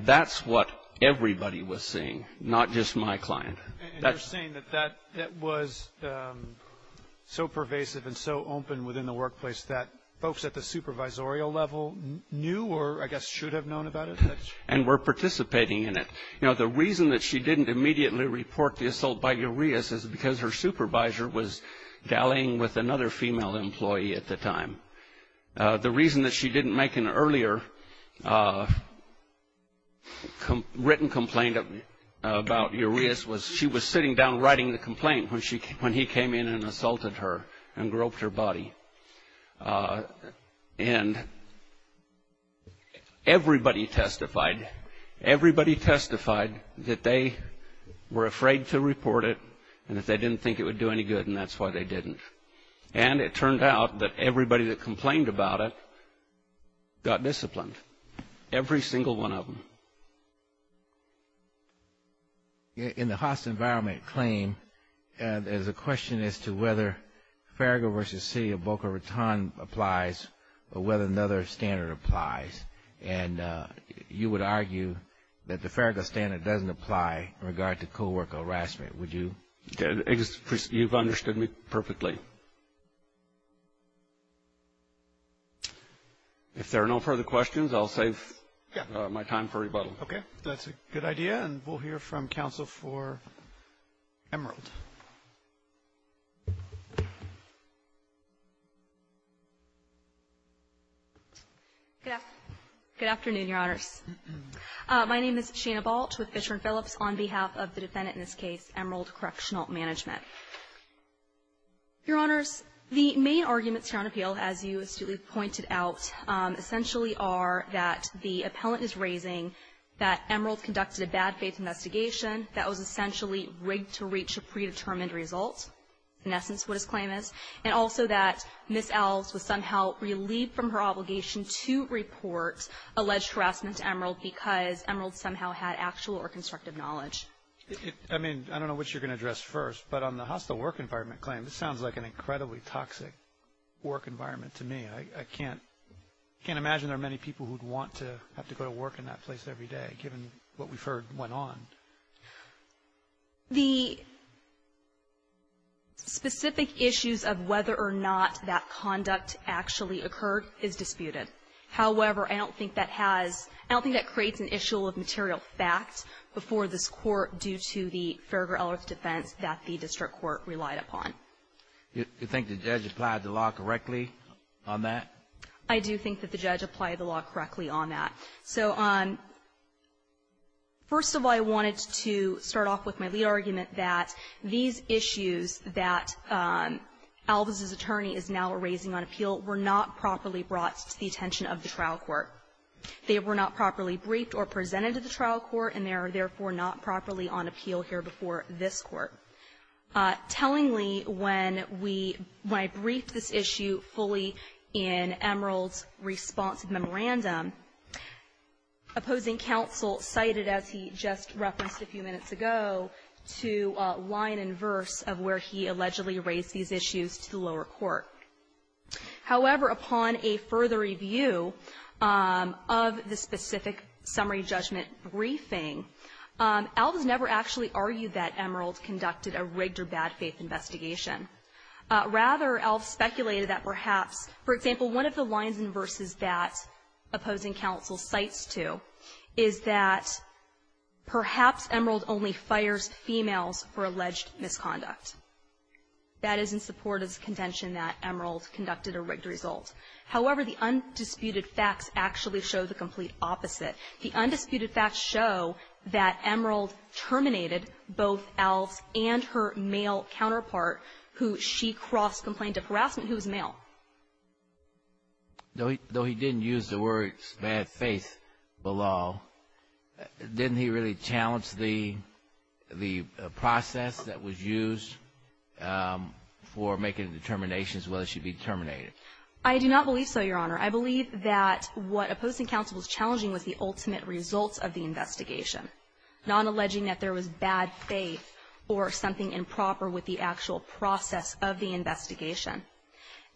that's what everybody was seeing, not just my client. And you're saying that it was so pervasive and so open within the workplace that folks at the supervisorial level knew or I guess should have known about it. And were participating in it. You know, the reason that she didn't immediately report the assault by Urias is because her supervisor was galleying with another female employee at the time. The reason that she didn't make an earlier written complaint about Urias was she was sitting down writing the complaint when he came in and assaulted her and groped her body. And everybody testified, everybody testified that they were afraid to report it and that they didn't think it would do any good and that's why they didn't. And it turned out that everybody that complained about it got disciplined, every single one of them. In the Haas environment claim, there's a question as to whether Farragut v. C of Boca Raton applies or whether another standard applies. And you would argue that the Farragut standard doesn't apply in regard to co-worker harassment, would you? You've understood me perfectly. If there are no further questions, I'll save my time for rebuttal. Okay. That's a good idea. And we'll hear from counsel for Emerald. Yes. Good afternoon, Your Honors. My name is Chia Balch with Fisher and Phillips on behalf of the defendant in this case, Emerald Correctional Management. Yes. Your Honors, the main arguments here on appeal, as you pointed out, essentially are that the appellant is raising that Emerald conducted a bad faith investigation that was essentially rigged to reach a predetermined result, in essence, what his claim is, and also that Ms. Els was somehow relieved from her obligation to report alleged harassment to Emerald because Emerald somehow had actual or constructive knowledge. I mean, I don't know what you're going to address first, but on the hostile work environment claim, this sounds like an incredibly toxic work environment to me. I can't imagine there are many people who'd want to have to go to work in that place every day, given what we've heard went on. The specific issues of whether or not that conduct actually occurred is disputed. However, I don't think that has – I don't think that creates an issue of material fact before this court due to the further alleged offense that the district court relied upon. You think the judge applied the law correctly on that? I do think that the judge applied the law correctly on that. So, first of all, I wanted to start off with my lead argument that these issues that Elvis's attorney is now raising on appeal were not properly brought to the attention of the trial court. They were not properly briefed or presented to the trial court, and they are therefore not properly on appeal here before this court. Tellingly, when I briefed this issue fully in Emerald's response memorandum, opposing counsel cited, as he just referenced a few minutes ago, to line and verse of where he allegedly raised these issues to lower court. However, upon a further review of the specific summary judgment briefing, Elvis never actually argued that Emerald conducted a rigged or bad faith investigation. Rather, Elvis speculated that perhaps, for example, one of the lines and verses that opposing counsel cites to is that perhaps Emerald only fires females for alleged misconduct. That is in support of the contention that Emerald conducted a rigged result. However, the undisputed facts actually show the complete opposite. The undisputed facts show that Emerald terminated both Elvis and her male counterpart, who she cross-complained to throughout, who was male. Though he didn't use the words bad faith below, didn't he really challenge the process that was used for making determinations whether she be terminated? I do not believe so, Your Honor. I believe that what opposing counsel was challenging was the ultimate results of the investigation, not alleging that there was bad faith or something improper with the actual process of the investigation.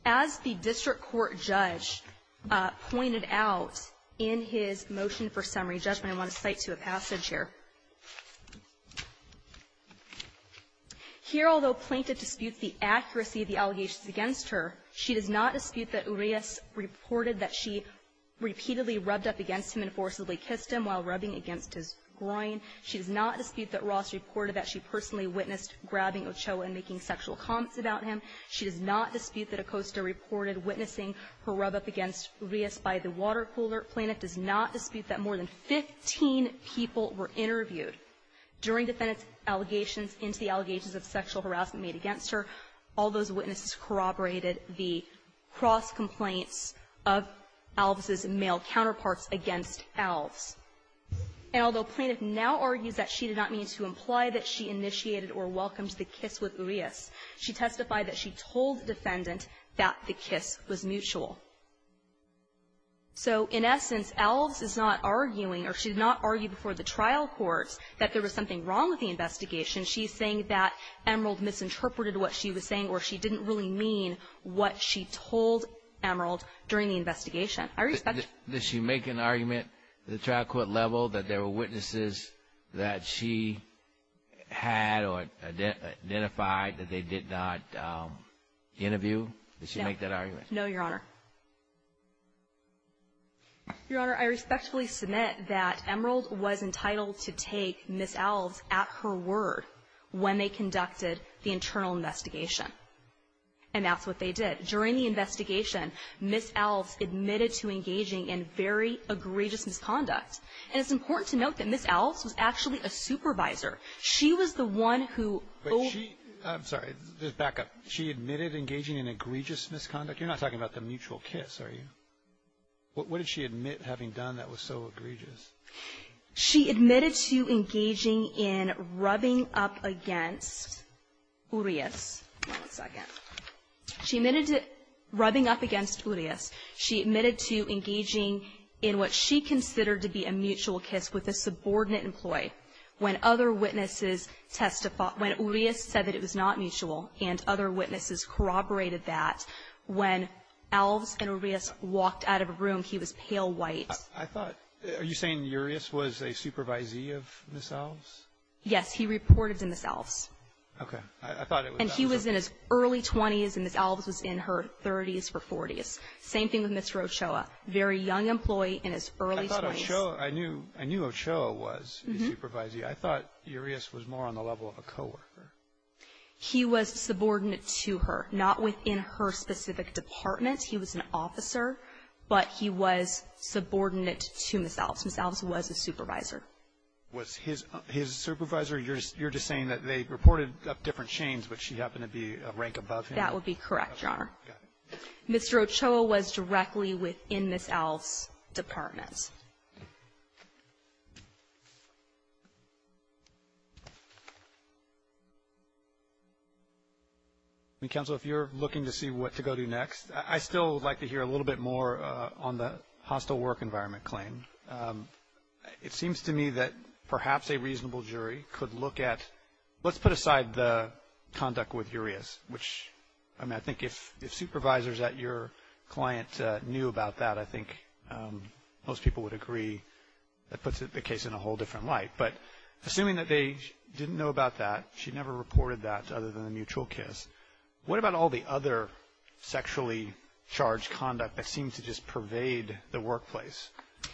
As the district court judge pointed out in his motion for summary judgment, I want to cite to a passage here. Here, although plaintiff disputes the accuracy of the allegations against her, she did not dispute that Urias reported that she repeatedly rubbed up against him and forcibly kissed him while rubbing against his groin. She did not dispute that Ross reported that she personally witnessed grabbing Ochoa and making sexual comments about him. She did not dispute that Ocosta reported witnessing her rub up against Urias by the water cooler. Plaintiff does not dispute that more than 15 people were interviewed during defendant's allegations, in the allegations of sexual harassment made against her. All those witnesses corroborated the cross-complaint of Alves' male counterparts against Alves. And although plaintiff now argues that she did not mean to imply that she initiated or welcomed the kiss with Urias, she testified that she told defendant that the kiss was mutual. So, in essence, Alves is not arguing, or she did not argue before the trial court, that there was something wrong with the investigation. She is saying that Emerald misinterpreted what she was saying, or she didn't really mean what she told Emerald during the investigation. Does she make an argument at the trial court level that there were witnesses that she had or identified that they did not interview? Does she make that argument? No, Your Honor. Your Honor, I respectfully submit that Emerald was entitled to take Ms. Alves at her word when they conducted the internal investigation. And that's what they did. During the investigation, Ms. Alves admitted to engaging in very egregious misconduct. And it's important to note that Ms. Alves was actually a supervisor. She was the one who – I'm sorry, just back up. She admitted engaging in egregious misconduct? You're not talking about the mutual kiss, are you? What did she admit having done that was so egregious? She admitted to engaging in rubbing up against Urias. She admitted rubbing up against Urias. She admitted to engaging in what she considered to be a mutual kiss with a subordinate employee When Urias said that it was not mutual and other witnesses corroborated that, when Alves and Urias walked out of a room, he was pale white. Are you saying Urias was a supervisee of Ms. Alves? Yes, he reported to Ms. Alves. Okay. And he was in his early 20s, and Ms. Alves was in her 30s or 40s. Same thing with Mr. Ochoa, very young employee in his early 20s. I thought Ochoa – I knew Ochoa was the supervisee. I thought Urias was more on the level of a coworker. He was subordinate to her, not within her specific department. He was an officer, but he was subordinate to Ms. Alves. Ms. Alves was a supervisor. Was his supervisor – you're just saying that they reported up different chains, but she happened to be a rank above him? That would be correct, Your Honor. Mr. Ochoa was directly within Ms. Alves' department. Counsel, if you're looking to see what to go do next, I'd still like to hear a little bit more on the hostile work environment claim. It seems to me that perhaps a reasonable jury could look at – let's put aside the conduct with Urias, which, I mean, I think if supervisors at your client knew about that, I think most people would agree that puts the case in a whole different light. But assuming that they didn't know about that, she never reported that other than the mutual kiss, what about all the other sexually charged conduct that seems to just pervade the workplace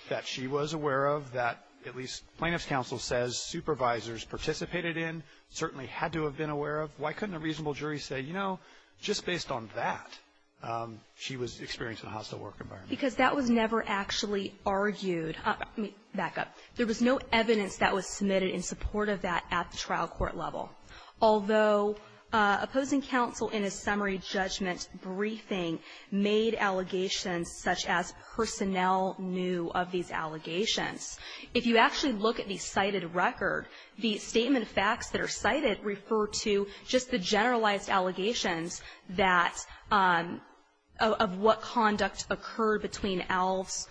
that she was aware of, that at least plaintiff's counsel says supervisors participated in, certainly had to have been aware of? Why couldn't a reasonable jury say, you know, just based on that, she was experiencing a hostile work environment? Because that was never actually argued. Back up. There was no evidence that was submitted in support of that at the trial court level, although opposing counsel in a summary judgment briefing made allegations such as personnel knew of these allegations. If you actually look at the cited record, the statement of facts that are cited refer to just the generalized allegations that – of what conduct occurred between Alves,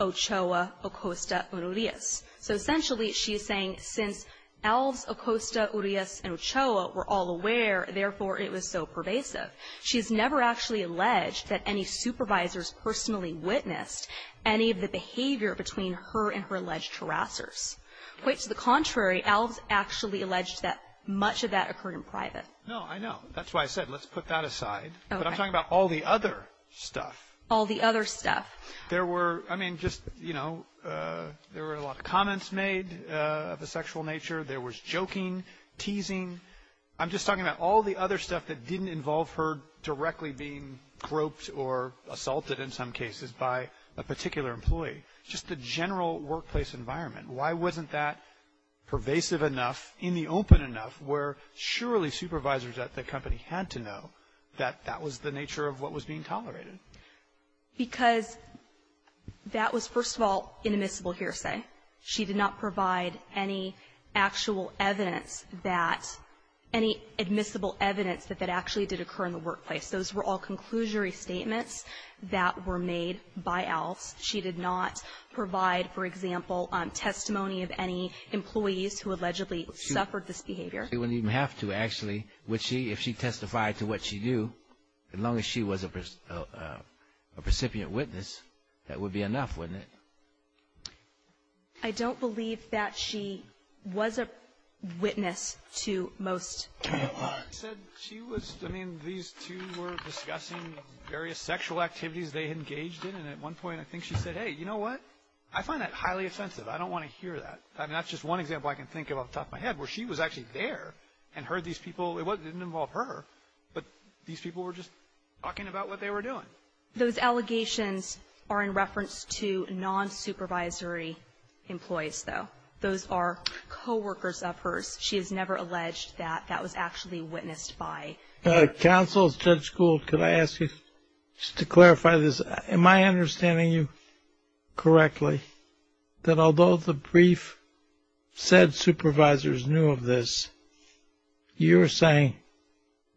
Ochoa, Acosta, and Urias. So essentially she is saying since Alves, Acosta, Urias, and Ochoa were all aware, therefore it was so pervasive. She's never actually alleged that any supervisors personally witnessed any of the behavior between her and her alleged harassers. Quite to the contrary, Alves actually alleged that much of that occurred in private. No, I know. That's why I said let's put that aside. Okay. But I'm talking about all the other stuff. All the other stuff. There were, I mean, just, you know, there were a lot of comments made of a sexual nature. There was joking, teasing. I'm just talking about all the other stuff that didn't involve her directly being groped or assaulted in some cases by a particular employee. Just the general workplace environment. Why wasn't that pervasive enough, in the open enough, where surely supervisors at the company had to know that that was the nature of what was being tolerated? Because that was, first of all, inadmissible hearsay. She did not provide any actual evidence that, any admissible evidence that that actually did occur in the workplace. Those were all conclusory statements that were made by Alves. She did not provide, for example, testimony of any employees who allegedly suffered this behavior. She wouldn't even have to, actually, if she testified to what she knew. As long as she was a recipient witness, that would be enough, wouldn't it? I don't believe that she was a witness to most cases. She was, I mean, these two were discussing various sexual activities they had engaged in, and at one point I think she said, hey, you know what? I find that highly offensive. I don't want to hear that. I mean, that's just one example I can think of off the top of my head, where she was actually there and heard these people. It didn't involve her, but these people were just talking about what they were doing. Those allegations are in reference to non-supervisory employees, though. Those are coworkers of hers. She has never alleged that that was actually witnessed by her. Counsel, Judge Gould, could I ask you, just to clarify this, am I understanding you correctly, that although the brief said supervisors knew of this, you're saying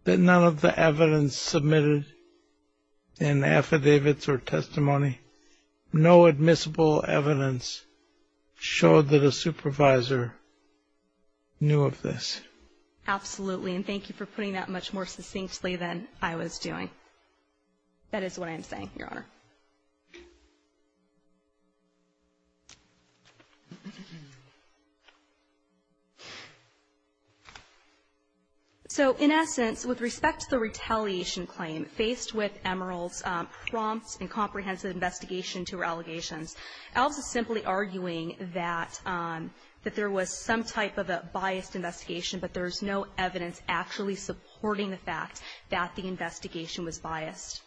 that none of the evidence submitted in affidavits or testimony, no admissible evidence showed that a supervisor knew of this? Absolutely, and thank you for putting that much more succinctly than I was doing. That is what I'm saying, Your Honor. So, in essence, with respect to the retaliation claim, faced with Emerald's prompt and comprehensive investigation to her allegations, I'll be simply arguing that there was some type of a biased investigation, but there is no evidence actually supporting the fact that the investigation was biased.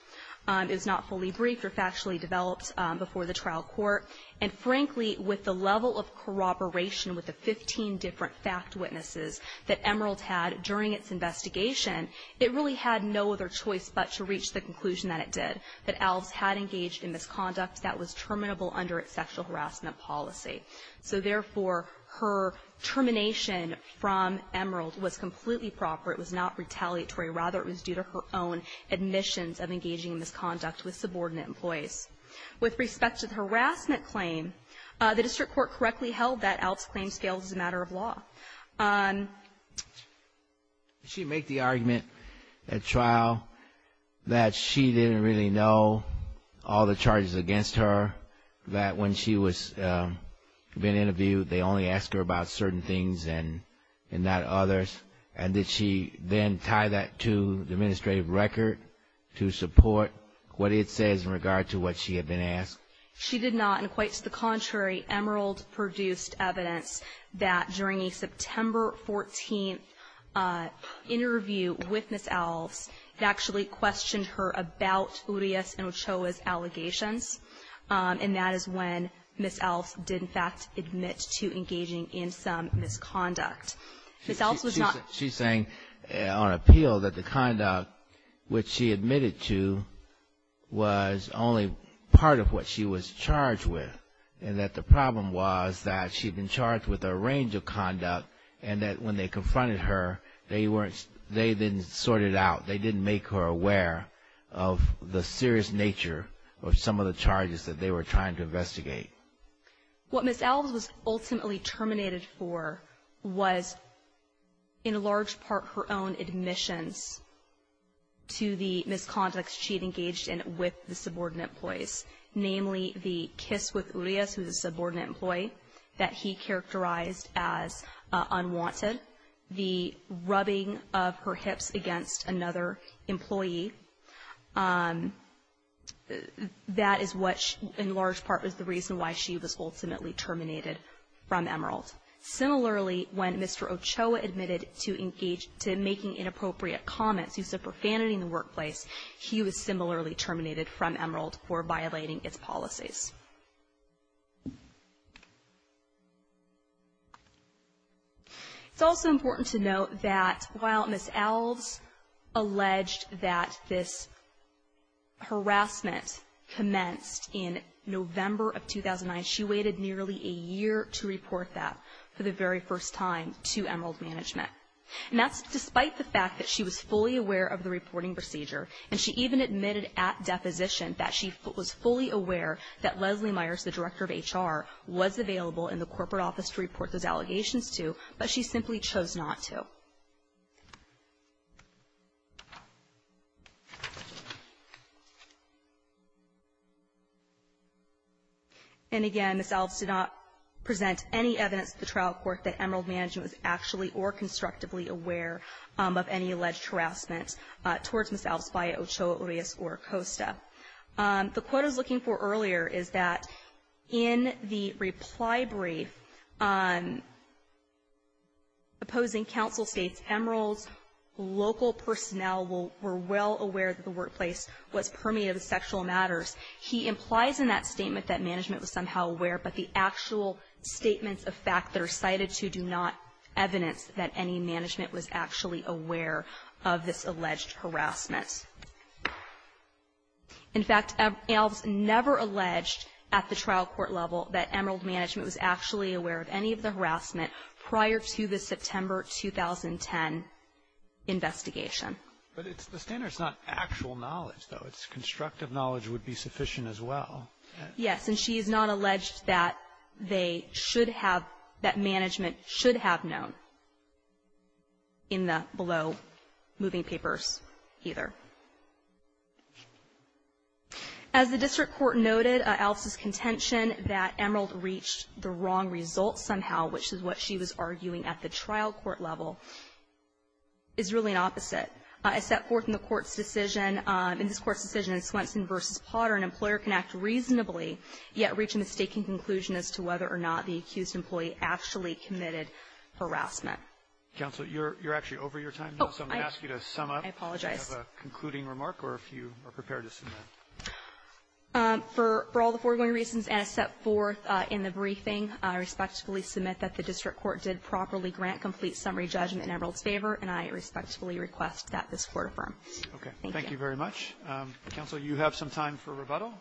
It was not fully briefed or factually developed before the trial court. And, frankly, with the level of corroboration with the 15 different fact witnesses that Emerald had during its investigation, it really had no other choice but to reach the conclusion that it did, that ALDS had engaged in misconduct that was terminable under its sexual harassment policy. So, therefore, her termination from Emerald was completely proper. It was not retaliatory. Rather, it was due to her own admissions of engaging in misconduct with subordinate employees. With respect to the harassment claim, the district court correctly held that ALDS claims failed as a matter of law. Did she make the argument at trial that she didn't really know all the charges against her, that when she was then interviewed, they only asked her about certain things and not others? And did she then tie that to the administrative record to support what it says in regard to what she had been asked? She did not. And, quite to the contrary, Emerald produced evidence that during a September 14th interview with Ms. ALDS, they actually questioned her about Urias and Ochoa's allegations, and that is when Ms. ALDS did, in fact, admit to engaging in some misconduct. She's saying on appeal that the conduct which she admitted to was only part of what she was charged with, and that the problem was that she'd been charged with a range of conduct, and that when they confronted her, they didn't sort it out. They didn't make her aware of the serious nature of some of the charges that they were trying to investigate. What Ms. ALDS was ultimately terminated for was, in large part, her own admission to the misconduct she'd engaged in with the subordinate employees, namely the kiss with Urias, who's a subordinate employee, that he characterized as unwanted, the rubbing of her hips against another employee, that is what, in large part, was the reason why she was ultimately terminated from Emerald. Similarly, when Mr. Ochoa admitted to making inappropriate comments, due to profanity in the workplace, he was similarly terminated from Emerald for violating its policies. It's also important to note that while Ms. ALDS alleged that this harassment commenced in November of 2009, she waited nearly a year to report that for the very first time to Emerald management. And that's despite the fact that she was fully aware of the reporting procedure, and she even admitted at deposition that she was fully aware that Leslie Myers, the director of HR, was available in the corporate office to report those allegations to, but she simply chose not to. And again, Ms. ALDS did not present any evidence to the trial court that Emerald management was actually or constructively aware of any alleged harassment towards Ms. ALDS by Ochoa, Urias, or Acosta. The quote I was looking for earlier is that in the reply brief, supposing counsel states Emerald's local personnel were well aware that the workplace was permeated with sexual matters, he implies in that statement that management was somehow aware, but the actual statements of fact that are cited do not evidence that any management was actually aware of this alleged harassment. In fact, ALDS never alleged at the trial court level that Emerald management was actually aware of any of the harassment prior to the September 2010 investigation. But the standard's not actual knowledge, though. It's constructive knowledge would be sufficient as well. Yes, and she is not alleged that they should have, that management should have known in the below moving papers either. As the district court noted, ALDS' contention that Emerald reached the wrong results somehow, which is what she was arguing at the trial court level, is really an opposite. As set forth in the court's decision, in this court's decision in Swenson v. Potter, an employer can act reasonably yet reach a mistaken conclusion as to whether or not the accused employee actually committed harassment. Counsel, you're actually over your time now, so I'm going to ask you to sum up. I apologize. Do you have a concluding remark or if you are prepared to submit? For all the foregoing reasons and as set forth in the briefing, I respectfully submit that the district court did properly grant complete summary judgment in Emerald's favor, and I respectfully request that this court affirm. Okay, thank you very much. Counsel, you have some time for rebuttal,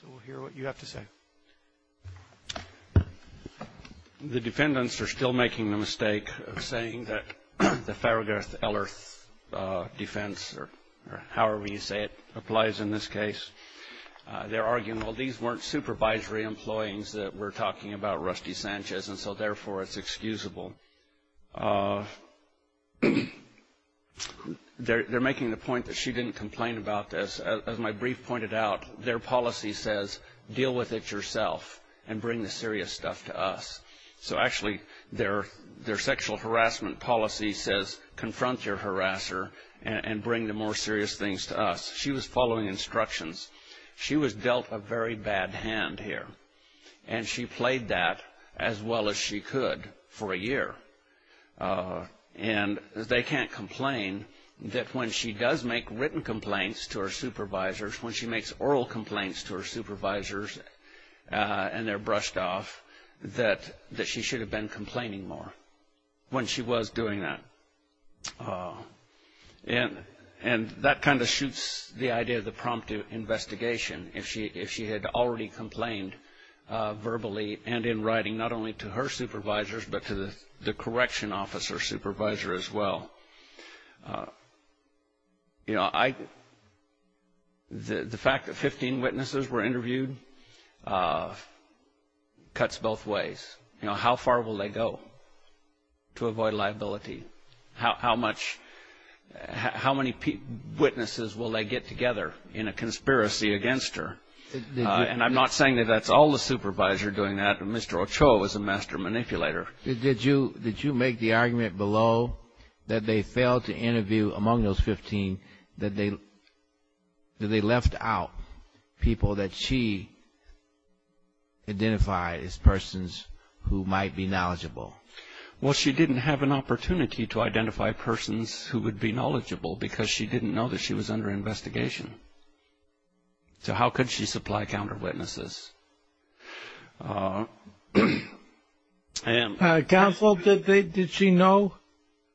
so we'll hear what you have to say. The dependents are still making the mistake of saying that the Farragut-Eller defense, or however you say it, applies in this case. They're arguing, well, these weren't supervisory employees that were talking about Rusty Sanchez, and so therefore it's excusable. They're making the point that she didn't complain about this. As my brief pointed out, their policy says deal with it yourself and bring the serious stuff to us. So actually their sexual harassment policy says confront your harasser and bring the more serious things to us. She was following instructions. She was dealt a very bad hand here, and she played that as well as she could for a year. And they can't complain that when she does make written complaints to her supervisors, when she makes oral complaints to her supervisors and they're brushed off, that she should have been complaining more when she was doing that. And that kind of shoots the idea of the prompt investigation, if she had already complained verbally and in writing not only to her supervisors but to the correction officer supervisor as well. You know, the fact that 15 witnesses were interviewed cuts both ways. You know, how far will they go to avoid liability? How many witnesses will they get together in a conspiracy against her? And I'm not saying that that's all the supervisor doing that. Mr. Ochoa was a master manipulator. Did you make the argument below that they failed to interview among those 15, that they left out people that she identified as persons who might be knowledgeable? Well, she didn't have an opportunity to identify persons who would be knowledgeable because she didn't know that she was under investigation. So how could she supply counter witnesses? Counsel, did she know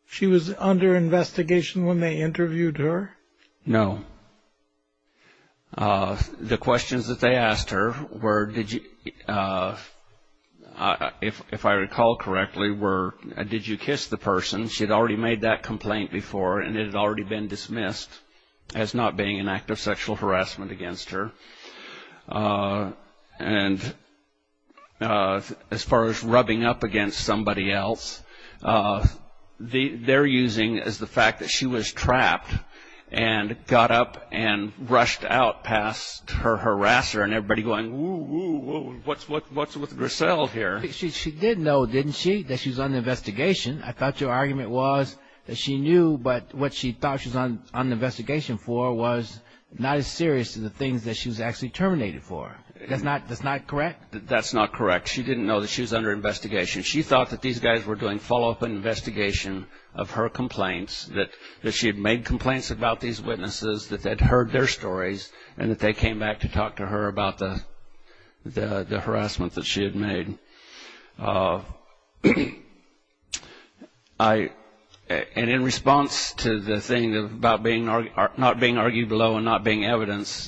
she was under investigation when they interviewed her? No. The questions that they asked her were, if I recall correctly, were, did you kiss the person? She had already made that complaint before and it had already been dismissed as not being an act of sexual harassment against her. And as far as rubbing up against somebody else, they're using as the fact that she was trapped and got up and rushed out past her harasser and everybody going, whoa, whoa, what's with Griselle here? She did know, didn't she, that she was under investigation. I thought your argument was that she knew, but what she thought she was under investigation for was not as serious as the things that she was actually terminated for. That's not correct? That's not correct. She didn't know that she was under investigation. She thought that these guys were doing follow-up investigation of her complaints, that she had made complaints about these witnesses, that they'd heard their stories, and that they came back to talk to her about the harassment that she had made. And in response to the thing about not being argued below and not being evidence,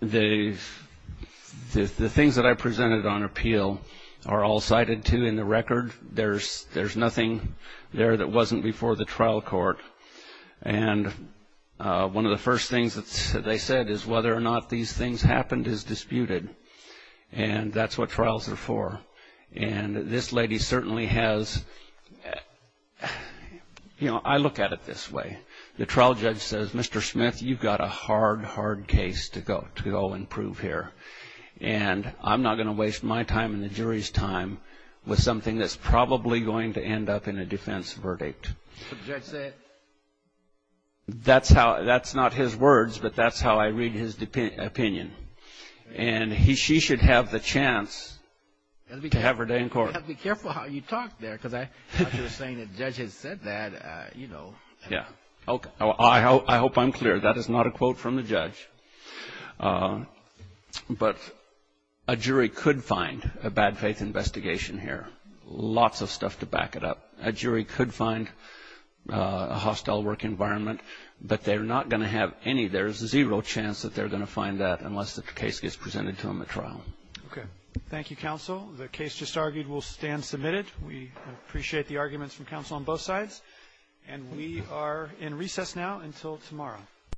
the things that I presented on appeal are all cited, too, in the record. There's nothing there that wasn't before the trial court. And one of the first things that they said is whether or not these things happened is disputed, and that's what trials are for. And this lady certainly has, you know, I look at it this way. The trial judge says, Mr. Smith, you've got a hard, hard case to go, to go and prove here, and I'm not going to waste my time and the jury's time with something that's probably going to end up in a defense verdict. That's not his words, but that's how I read his opinion. And she should have the chance to have her day in court. You have to be careful how you talk there, because I thought you were saying the judge had said that, you know. Yeah. I hope I'm clear. That is not a quote from the judge. But a jury could find a bad faith investigation here, lots of stuff to back it up. A jury could find a hostile work environment, but they're not going to have any. There's zero chance that they're going to find that unless the case gets presented to them at trial. Okay. Thank you, counsel. The case just argued will stand submitted. We appreciate the arguments from counsel on both sides. And we are in recess now until tomorrow.